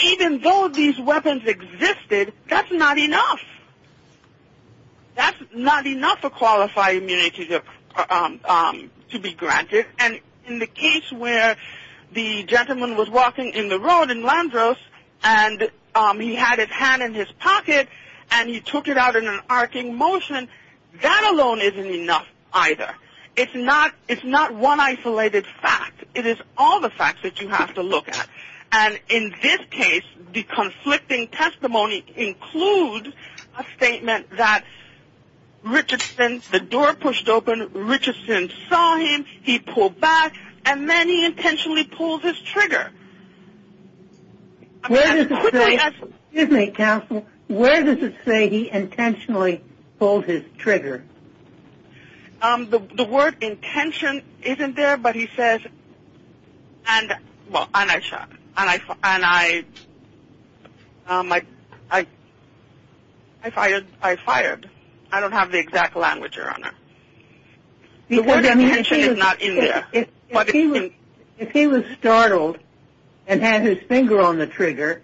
even though these weapons existed, that's not enough. That's not enough to qualify immunity to be granted, and in the case where the gentleman was walking in the road in Landros and he had his hand in his pocket and he took it out in an arcing motion, that alone isn't enough either. It's not one isolated fact. It is all the facts that you have to look at, and in this case the conflicting testimony includes a statement that Richardson, the door pushed open, Richardson saw him, he pulled back, and then he intentionally pulled his trigger. Excuse me, counsel. Counsel, where does it say he intentionally pulled his trigger? The word intention isn't there, but he says, and I fired. I don't have the exact language, Your Honor. The word intention is not in there. If he was startled and had his finger on the trigger,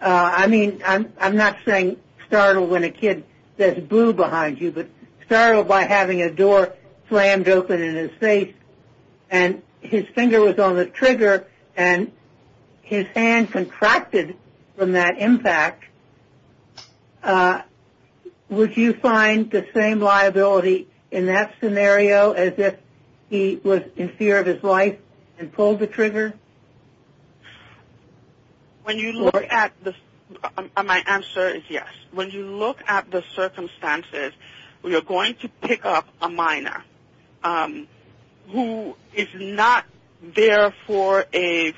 I mean I'm not saying startled when a kid says boo behind you, but startled by having a door slammed open in his face and his finger was on the trigger and his hand contracted from that impact, would you find the same liability in that scenario as if he was in fear of his life and pulled the trigger? My answer is yes. When you look at the circumstances, we are going to pick up a minor who is not there for a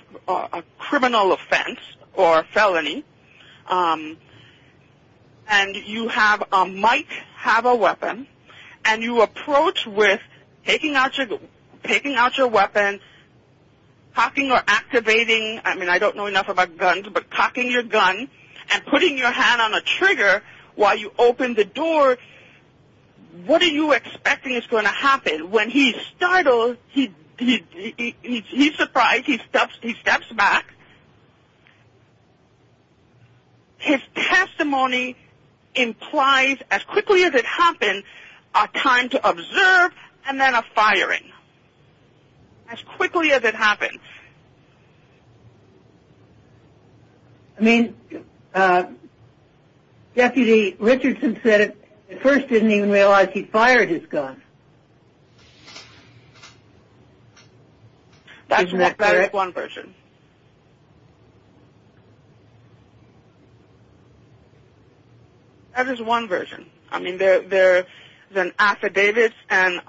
criminal offense or a felony, and you might have a weapon, and you approach with taking out your weapon, cocking or activating, I mean I don't know enough about guns, but cocking your gun and putting your hand on a trigger while you open the door, what are you expecting is going to happen? When he's startled, he's surprised, he steps back. His testimony implies as quickly as it happens a time to observe and then a firing, as quickly as it happens. I mean, Deputy Richardson said at first he didn't even realize he fired his gun. That is one version. That is one version. I mean there's an affidavit and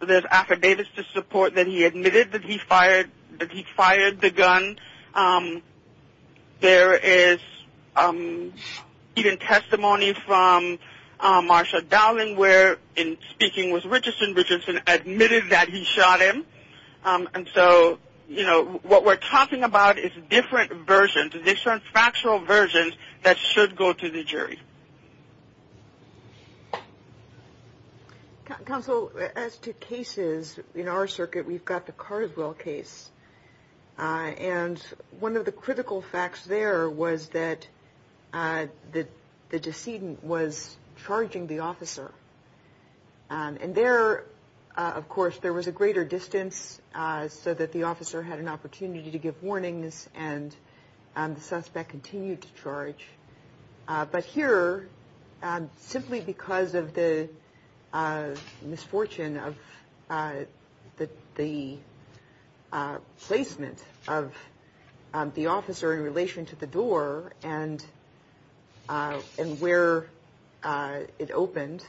there's affidavits to support that he admitted that he fired the gun. There is even testimony from Marsha Dowling where in speaking with Richardson, Richardson admitted that he shot him. And so, you know, what we're talking about is different versions, Counsel, as to cases in our circuit, we've got the Carswell case. And one of the critical facts there was that the decedent was charging the officer. And there, of course, there was a greater distance so that the officer had an opportunity to give warnings and the suspect continued to charge. But here, simply because of the misfortune of the placement of the officer in relation to the door and where it opened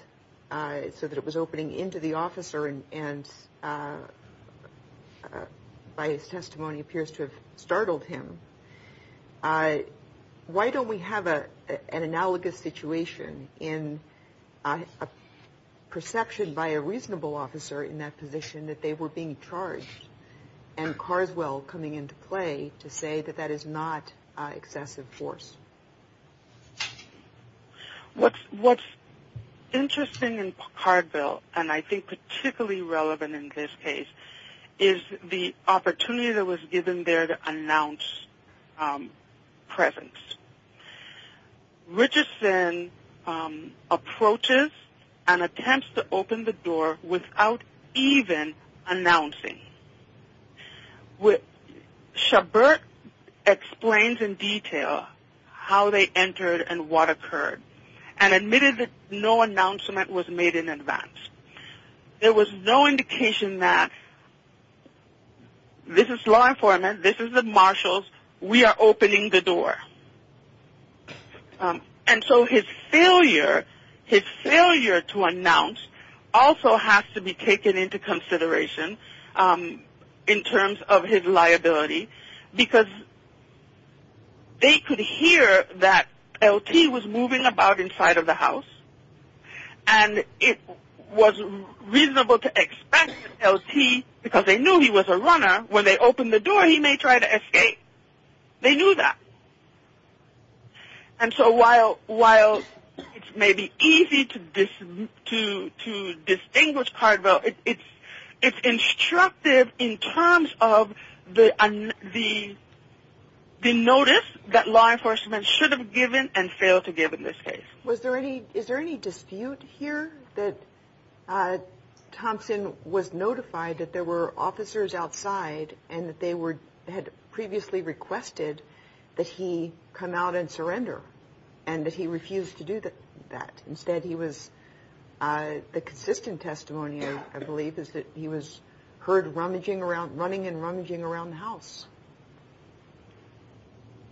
so that it was opening into the officer and by his testimony appears to have startled him, why don't we have an analogous situation in a perception by a reasonable officer in that position that they were being charged and Carswell coming into play to say that that is not excessive force? What's interesting in Cardville and I think particularly relevant in this case is the opportunity that was given there to announce presence. Richardson approaches and attempts to open the door without even announcing. Shabert explains in detail how they entered and what occurred and admitted that no announcement was made in advance. There was no indication that this is law enforcement, this is the marshals, we are opening the door. And so his failure to announce also has to be taken into consideration in terms of his liability because they could hear that LT was moving about inside of the house and it was reasonable to expect LT because they knew he was a runner. When they opened the door, he may try to escape. They knew that. And so while it may be easy to distinguish Cardville, it's instructive in terms of the notice that law enforcement should have given and failed to give in this case. Was there any – is there any dispute here that Thompson was notified that there were officers outside and that they had previously requested that he come out and surrender and that he refused to do that? Instead he was – the consistent testimony, I believe, is that he was heard running and rummaging around the house.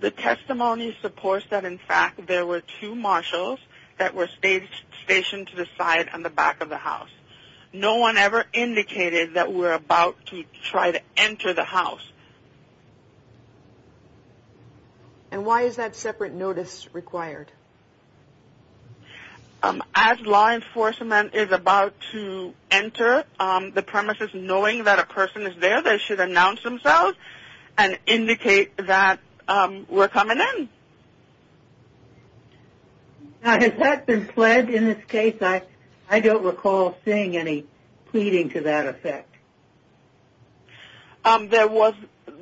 The testimony supports that, in fact, there were two marshals that were stationed to the side on the back of the house. No one ever indicated that we're about to try to enter the house. And why is that separate notice required? As law enforcement is about to enter the premises, knowing that a person is there, they should announce themselves. And indicate that we're coming in. Has that been pledged in this case? I don't recall seeing any pleading to that effect. There was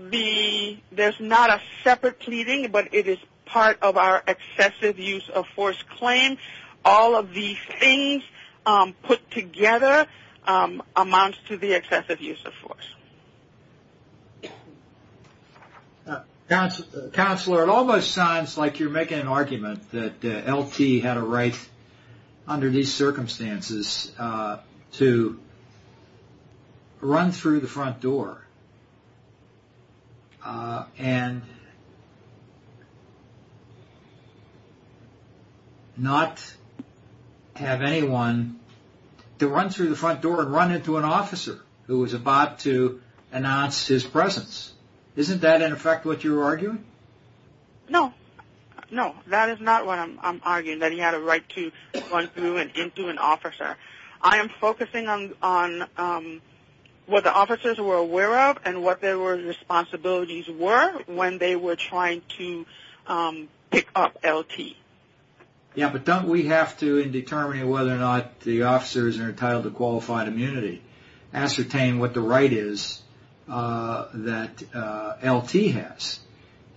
the – there's not a separate pleading, but it is part of our excessive use of force claim. All of these things put together amounts to the excessive use of force. Counselor, it almost sounds like you're making an argument that LT had a right, under these circumstances, to run through the front door and not have anyone to run through the front door and run into an officer who was about to announce his presence. Isn't that, in effect, what you're arguing? No. No, that is not what I'm arguing, that he had a right to run through and into an officer. I am focusing on what the officers were aware of and what their responsibilities were when they were trying to pick up LT. Yeah, but don't we have to, in determining whether or not the officers are entitled to qualified immunity, ascertain what the right is that LT has?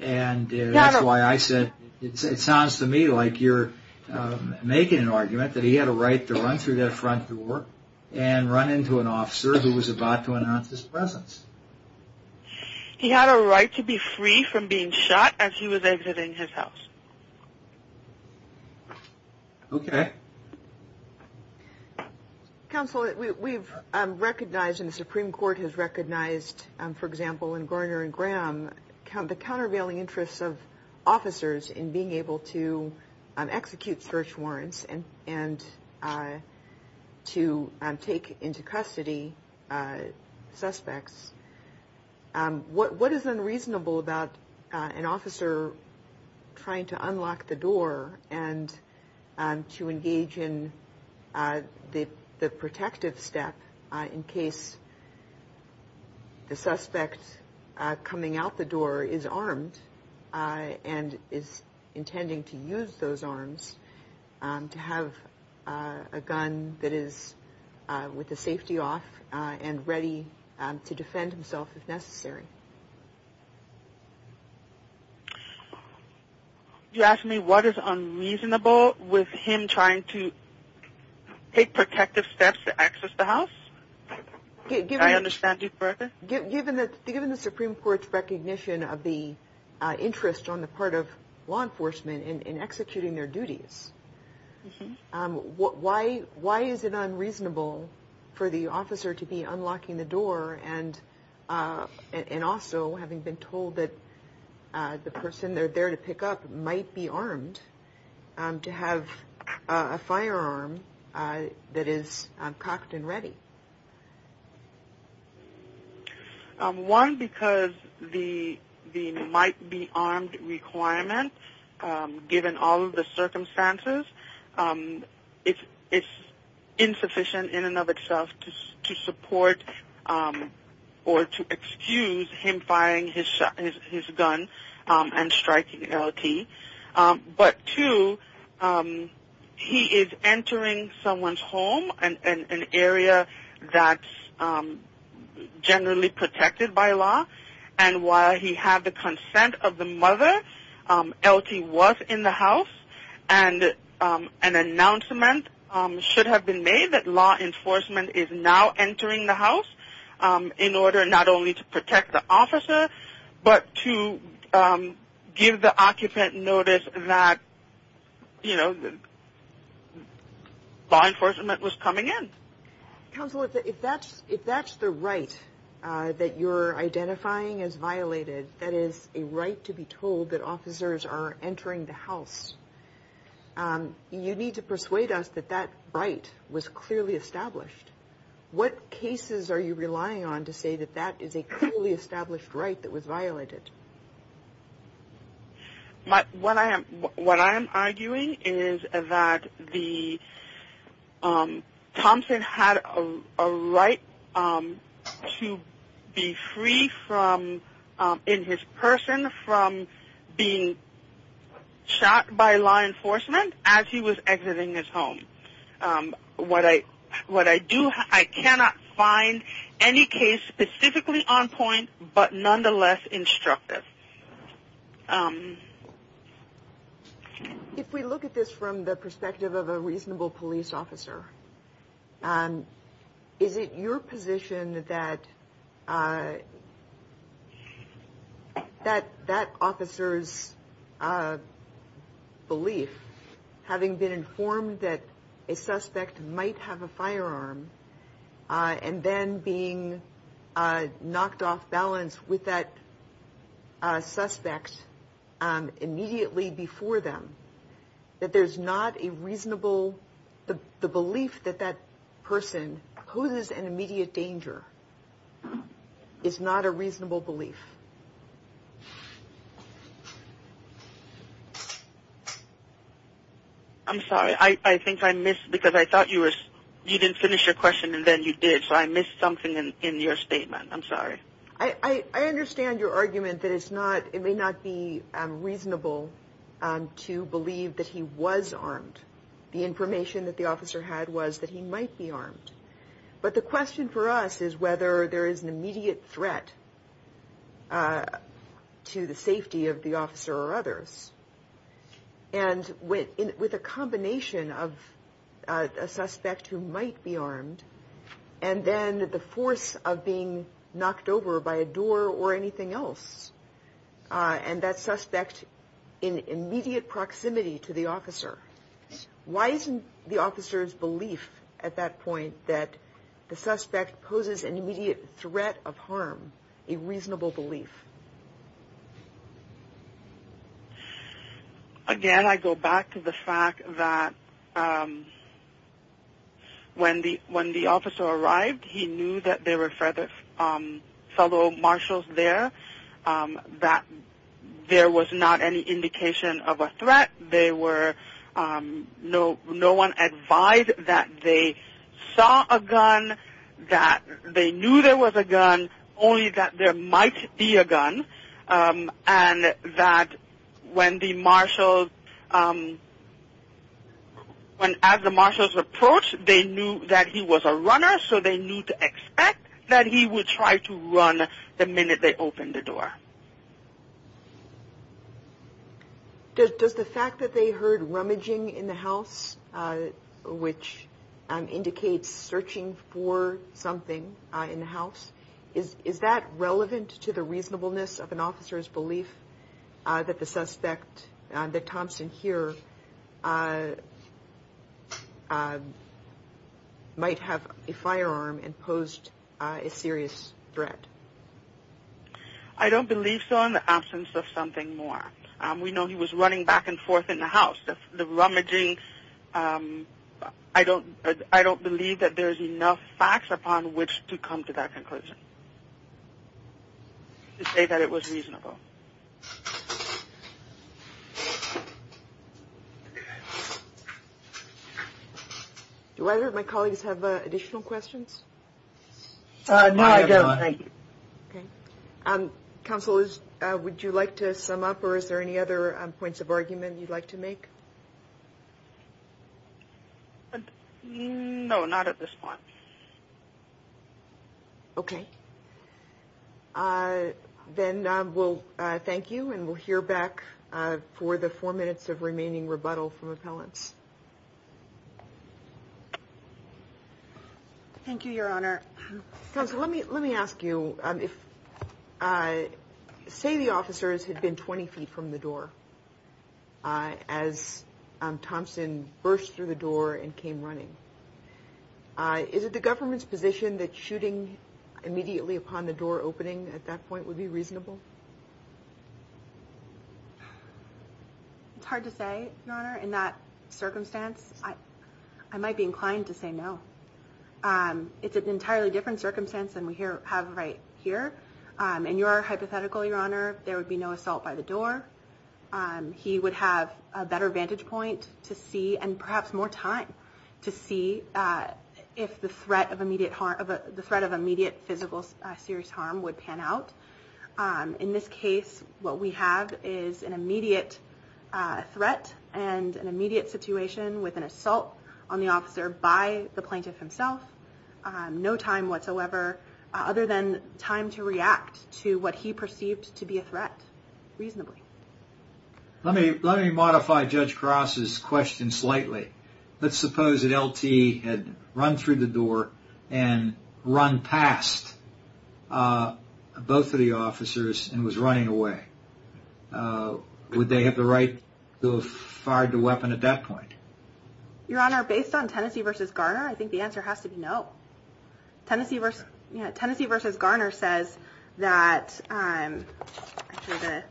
And that's why I said it sounds to me like you're making an argument that he had a right to run through that front door and run into an officer who was about to announce his presence. He had a right to be free from being shot as he was exiting his house. Okay. Counsel, we've recognized and the Supreme Court has recognized, for example, in Garner and Graham, the countervailing interests of officers in being able to execute search warrants and to take into custody suspects. What is unreasonable about an officer trying to unlock the door and to engage in the protective step in case the suspect coming out the door is armed and is intending to use those arms to have a gun that is with the safety off Did you ask me what is unreasonable with him trying to take protective steps to access the house? Did I understand you correctly? Given the Supreme Court's recognition of the interest on the part of law enforcement in executing their duties, why is it unreasonable for the officer to be unlocking the door and also having been told that the person they're there to pick up might be armed to have a firearm that is cocked and ready? One, because the might be armed requirement, given all of the circumstances, it's insufficient in and of itself to support or to excuse him firing his gun and striking LT. But two, he is entering someone's home, an area that's generally protected by law, LT was in the house, and an announcement should have been made that law enforcement is now entering the house in order not only to protect the officer, but to give the occupant notice that law enforcement was coming in. Counselor, if that's the right that you're identifying as violated, that is a right to be told that officers are entering the house, you need to persuade us that that right was clearly established. What cases are you relying on to say that that is a clearly established right that was violated? What I am arguing is that Thompson had a right to be free in his person from being shot by law enforcement as he was exiting his home. What I do, I cannot find any case specifically on point, but nonetheless instructive. If we look at this from the perspective of a reasonable police officer, is it your position that that officer's belief, having been informed that a suspect might have a firearm, and then being knocked off balance with that suspect immediately before them, that there's not a reasonable... the belief that that person poses an immediate danger is not a reasonable belief? I'm sorry, I think I missed... because I thought you didn't finish your question and then you did, I understand your argument that it may not be reasonable to believe that he was armed. The information that the officer had was that he might be armed. But the question for us is whether there is an immediate threat to the safety of the officer or others. And then the force of being knocked over by a door or anything else, and that suspect in immediate proximity to the officer. Why isn't the officer's belief at that point that the suspect poses an immediate threat of harm a reasonable belief? Again, I go back to the fact that when the officer arrived, he knew that there were fellow marshals there, that there was not any indication of a threat, no one advised that they saw a gun, that they knew there was a gun, only that there might be a gun, that there was a gun, and that when the marshals... as the marshals approached, they knew that he was a runner, so they knew to expect that he would try to run the minute they opened the door. Does the fact that they heard rummaging in the house, which indicates searching for something in the house, is that relevant to the reasonableness of an officer's belief that the suspect, that Thompson here, might have a firearm and posed a serious threat? I don't believe so in the absence of something more. We know he was running back and forth in the house. The rummaging... I don't believe that there's enough facts upon which to come to that conclusion, to say that it was reasonable. Do either of my colleagues have additional questions? No, I don't. Counsel, would you like to sum up, or is there any other points of argument you'd like to make? No, not at this point. Okay. Then we'll thank you, and we'll hear back for the four minutes of remaining rebuttal from appellants. Thank you, Your Honor. Counsel, let me ask you. Say the officers had been 20 feet from the door as Thompson burst through the door and came running. Is it the government's position that shooting immediately upon the door opening at that point would be reasonable? It's hard to say, Your Honor, in that circumstance. I might be inclined to say no. It's an entirely different circumstance than we have right here. In your hypothetical, Your Honor, there would be no assault by the door. He would have a better vantage point to see and perhaps more time to see if the threat of immediate physical serious harm would pan out. In this case, what we have is an immediate threat and an immediate situation with an assault on the officer by the plaintiff himself. No time whatsoever, other than time to react to what he perceived to be a threat, reasonably. Let me modify Judge Cross's question slightly. Let's suppose an LT had run through the door and run past both of the officers and was running away. Would they have the right to have fired the weapon at that point? Your Honor, based on Tennessee v. Garner, I think the answer has to be no. Tennessee v. Garner says that, actually the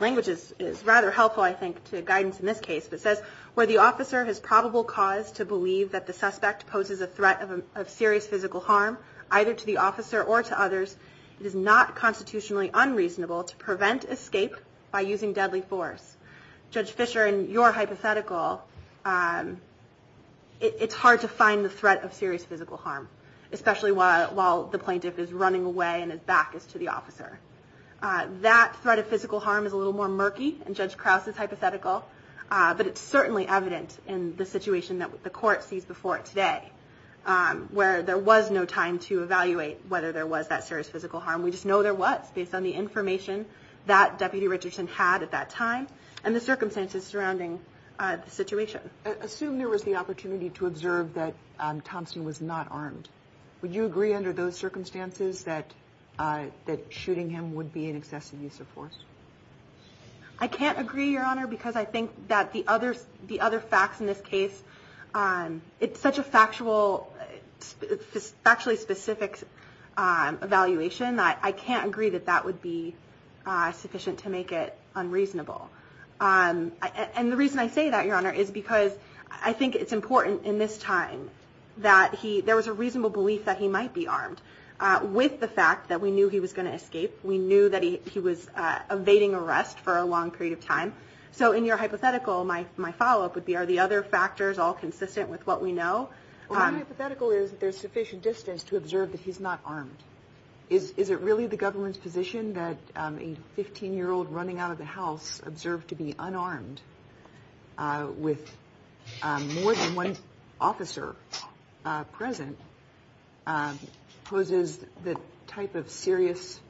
language is rather helpful, I think, to guidance in this case. It says, where the officer has probable cause to believe that the suspect poses a threat of serious physical harm, either to the officer or to others, it is not constitutionally unreasonable to prevent escape by using deadly force. Judge Fisher, in your hypothetical, it's hard to find the threat of serious physical harm, especially while the plaintiff is running away and his back is to the officer. That threat of physical harm is a little more murky in Judge Cross's hypothetical, but it's certainly evidence in the situation that the court sees before it today, where there was no time to evaluate whether there was that serious physical harm. We just know there was, based on the information that Deputy Richardson had at that time and the circumstances surrounding the situation. Assume there was the opportunity to observe that Thompson was not armed. Would you agree under those circumstances that shooting him would be an excessive use of force? I can't agree, Your Honor, because I think that the other facts in this case, it's such a factually specific evaluation, I can't agree that that would be sufficient to make it unreasonable. And the reason I say that, Your Honor, is because I think it's important in this time that there was a reasonable belief that he might be armed, with the fact that we knew he was going to escape, we knew that he was evading arrest for a long period of time. So in your hypothetical, my follow-up would be, are the other factors all consistent with what we know? My hypothetical is that there's sufficient distance to observe that he's not armed. Is it really the government's position that a 15-year-old running out of the house observed to be unarmed, with more than one officer present, poses the type of serious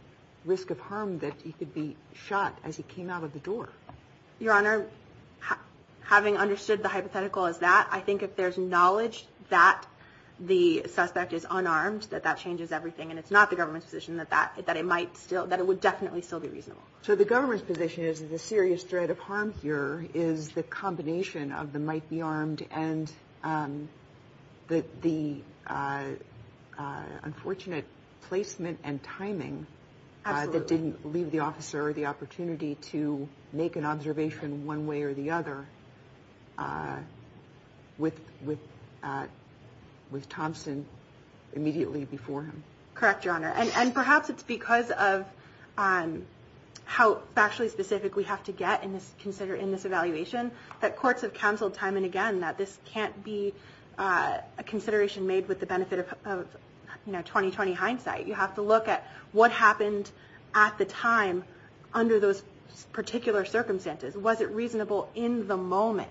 risk of harm that he could be shot as he came out of the door? Your Honor, having understood the hypothetical as that, I think if there's knowledge that the suspect is unarmed, that that changes everything, and it's not the government's position that it would definitely still be reasonable. So the government's position is that the serious threat of harm here is the combination of the might-be-armed and the unfortunate placement and timing that didn't leave the officer the opportunity to make an observation one way or the other with Thompson immediately before him. Correct, Your Honor. And perhaps it's because of how factually specific we have to get in this evaluation that courts have counseled time and again that this can't be a consideration made with the benefit of 20-20 hindsight. You have to look at what happened at the time under those particular circumstances. Was it reasonable in the moment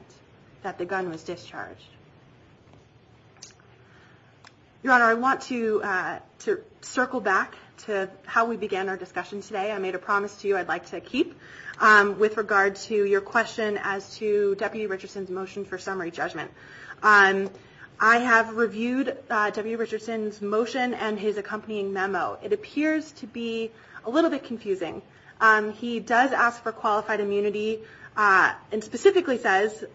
that the gun was discharged? Your Honor, I want to circle back to how we began our discussion today. I made a promise to you I'd like to keep with regard to your question as to Deputy Richardson's motion for summary judgment. I have reviewed Deputy Richardson's motion and his accompanying memo. It appears to be a little bit confusing. He does ask for qualified immunity and specifically says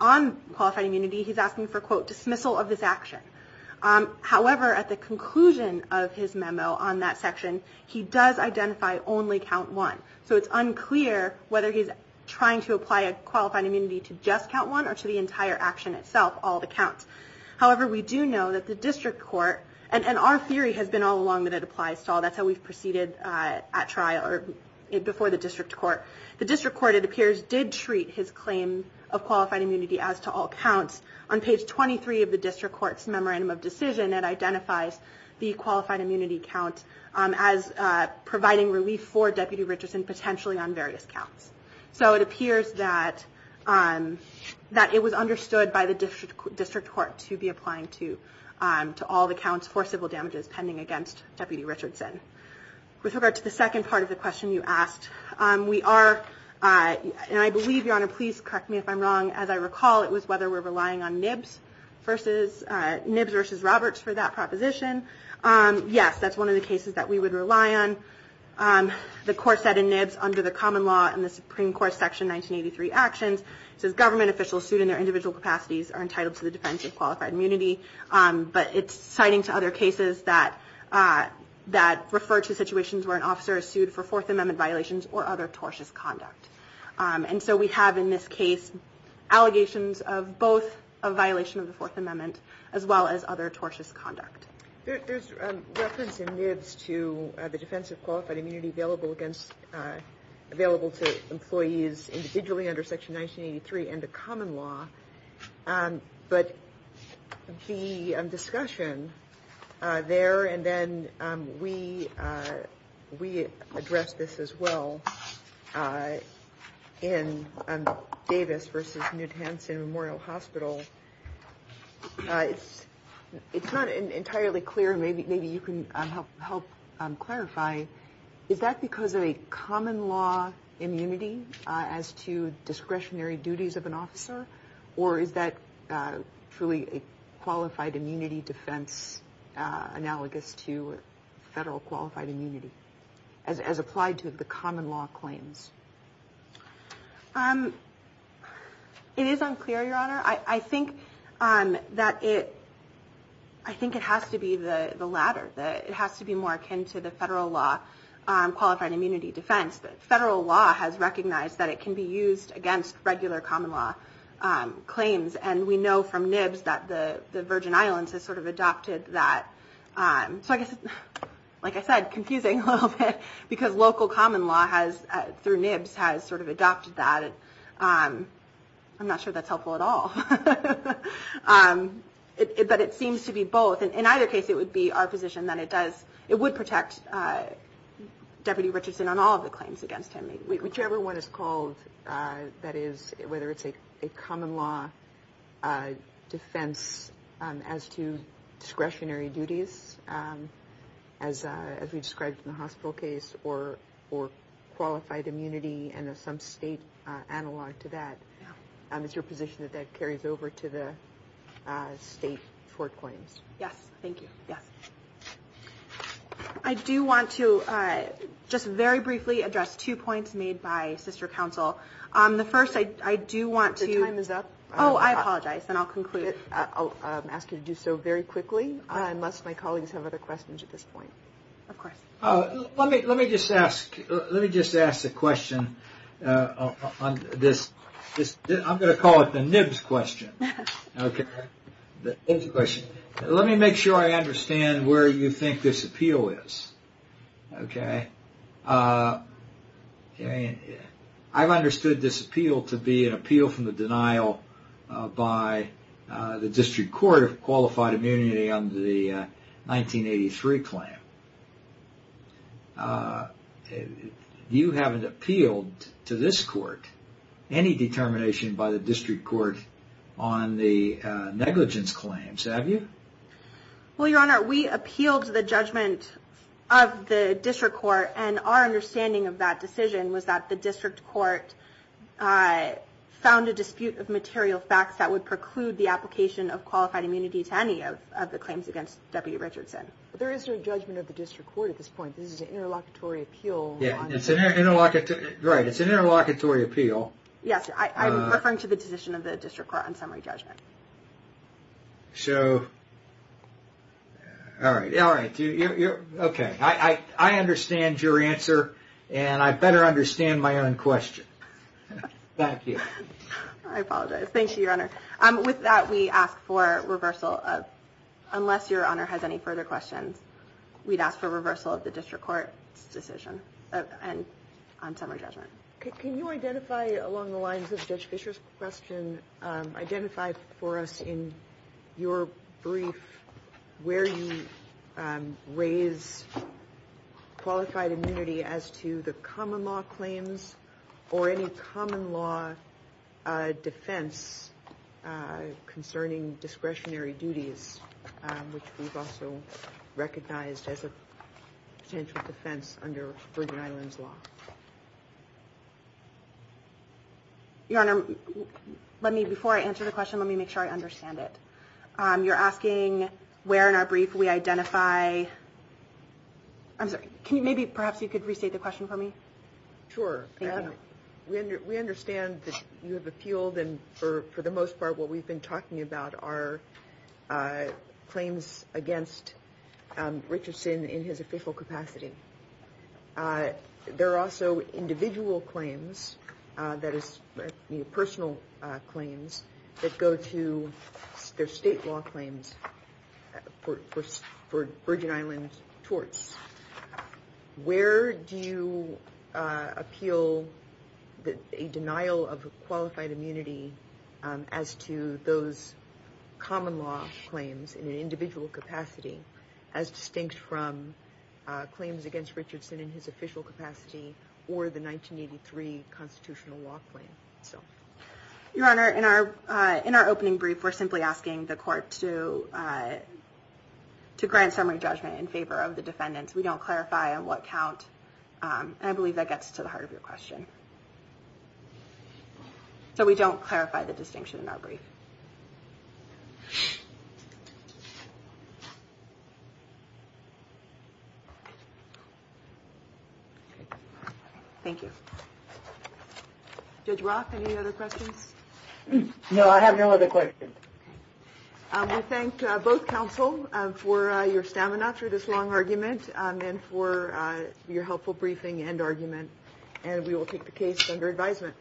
on qualified immunity he's asking for, quote, dismissal of his action. However, at the conclusion of his memo on that section he does identify only count one. So it's unclear whether he's trying to apply a qualified immunity to just count one or to the entire action itself, all the counts. However, we do know that the district court and our theory has been all along that it applies to all. That's how we've proceeded at trial or before the district court. The district court, it appears, did treat his claims of qualified immunity as to all counts. On page 23 of the district court's memorandum of decision it identifies the qualified immunity count as providing relief for Deputy Richardson potentially on various counts. So it appears that it was understood by the district court to be applying to all the counts for civil damages pending against Deputy Richardson. With regard to the second part of the question you asked, we are, and I believe, Your Honor, please correct me if I'm wrong. As I recall, it was whether we're relying on Nibs versus, Nibs versus Roberts for that proposition. Yes, that's one of the cases that we would rely on. The court said in Nibs under the common law in the Supreme Court section 1983 actions does government officials suit in their individual capacities are entitled to the defense of qualified immunity. But it's citing to other cases that refer to situations where an officer is sued for Fourth Amendment violations or other tortious conduct. And so we have in this case allegations of both a violation of the Fourth Amendment as well as other tortious conduct. There's reference in Nibs to the defense of qualified immunity available against, available to employees individually under section 1983 and the common law. But the discussion there is earlier and then we addressed this as well in Davis versus New Hampshire Memorial Hospital. It's not entirely clear. Maybe you can help clarify. Is that because of a common law immunity as to discretionary duties of an officer? Or is that truly a qualified immunity defense analogous to federal qualified immunity as applied to the common law claims? It is unclear, Your Honor. I think that it, I think it has to be the latter. It has to be more akin to the federal law qualified immunity defense. Federal law has recognized that it can be used against regular common law claims. And we know from Nibs that the Virgin Islands has sort of adopted that. So I guess, like I said, confusing a little bit because local common law has, through Nibs, has sort of adopted that. I'm not sure that's helpful at all. But it seems to be both. In either case, it would be our position that it does, it would protect Deputy Richardson on all of the claims against him. Whichever one is called, that is, whether it's a common law defense as to discretionary duties, as we described in the hospital case, or qualified immunity and some state analog to that. It's your position that that carries over to the state court claims. Yes, thank you. Yes. I do want to just very briefly address two points made by sister counsel. The first, I do want to... Your time is up. Oh, I apologize, and I'll conclude. I'll ask you to do so very quickly, unless my colleagues have other questions at this point. Of course. Let me just ask a question on this. I'm going to call it the Nibs question. Okay. Let me make sure I understand where you think this appeal is. Okay. I've understood this appeal to be an appeal from the denial by the district court of qualified immunity under the 1983 claim. You haven't appealed to this court any determination by the district court on the negligence claims, have you? Well, Your Honor, we appealed the judgment of the district court, and our understanding of that decision was that the district court found a dispute of material facts that would preclude the application of qualified immunity to any of the claims against Deputy Richardson. There is no judgment of the district court at this point. This is an interlocutory appeal. Right, it's an interlocutory appeal. Yes, I'm referring to the decision of the district court on summary judgment. So... All right. Okay. I understand your answer, and I better understand my own question. Thank you. I apologize. Thank you, Your Honor. With that, we ask for reversal of... Unless Your Honor has any further questions, we'd ask for reversal of the district court decision on summary judgment. Can you identify along the lines of Judge Fischer's question, identify for us in your brief where you raise qualified immunity as to the common law claims or any common law defense concerning discretionary duties, which we've also recognized as a potential defense under Bridgen Island's law? Your Honor, before I answer the question, let me make sure I understand it. You're asking where in our brief we identify... I'm sorry. Can you restate the question for me? Sure. We understand that you have appealed, and for the most part, what we've been talking about are claims against Richardson in his official capacity. There are also individual claims, that is, personal claims, that go to their state law claims for Bridgen Island's torts. Where do you appeal a denial of qualified immunity as to those common law claims in an individual capacity as distinct from claims against Richardson in his official capacity or the 1983 constitutional law claim? Your Honor, in our opening brief, we're simply asking the court to grant summary judgment in favor of the defendants. We don't clarify on what count, and I believe that gets to the heart of your question. So we don't clarify the distinction in our brief. Thank you. Judge Roth, any other questions? No, I have no other questions. We thank both counsel for your stamina through this long argument and for your helpful briefing and argument, and we will take the case under advisement.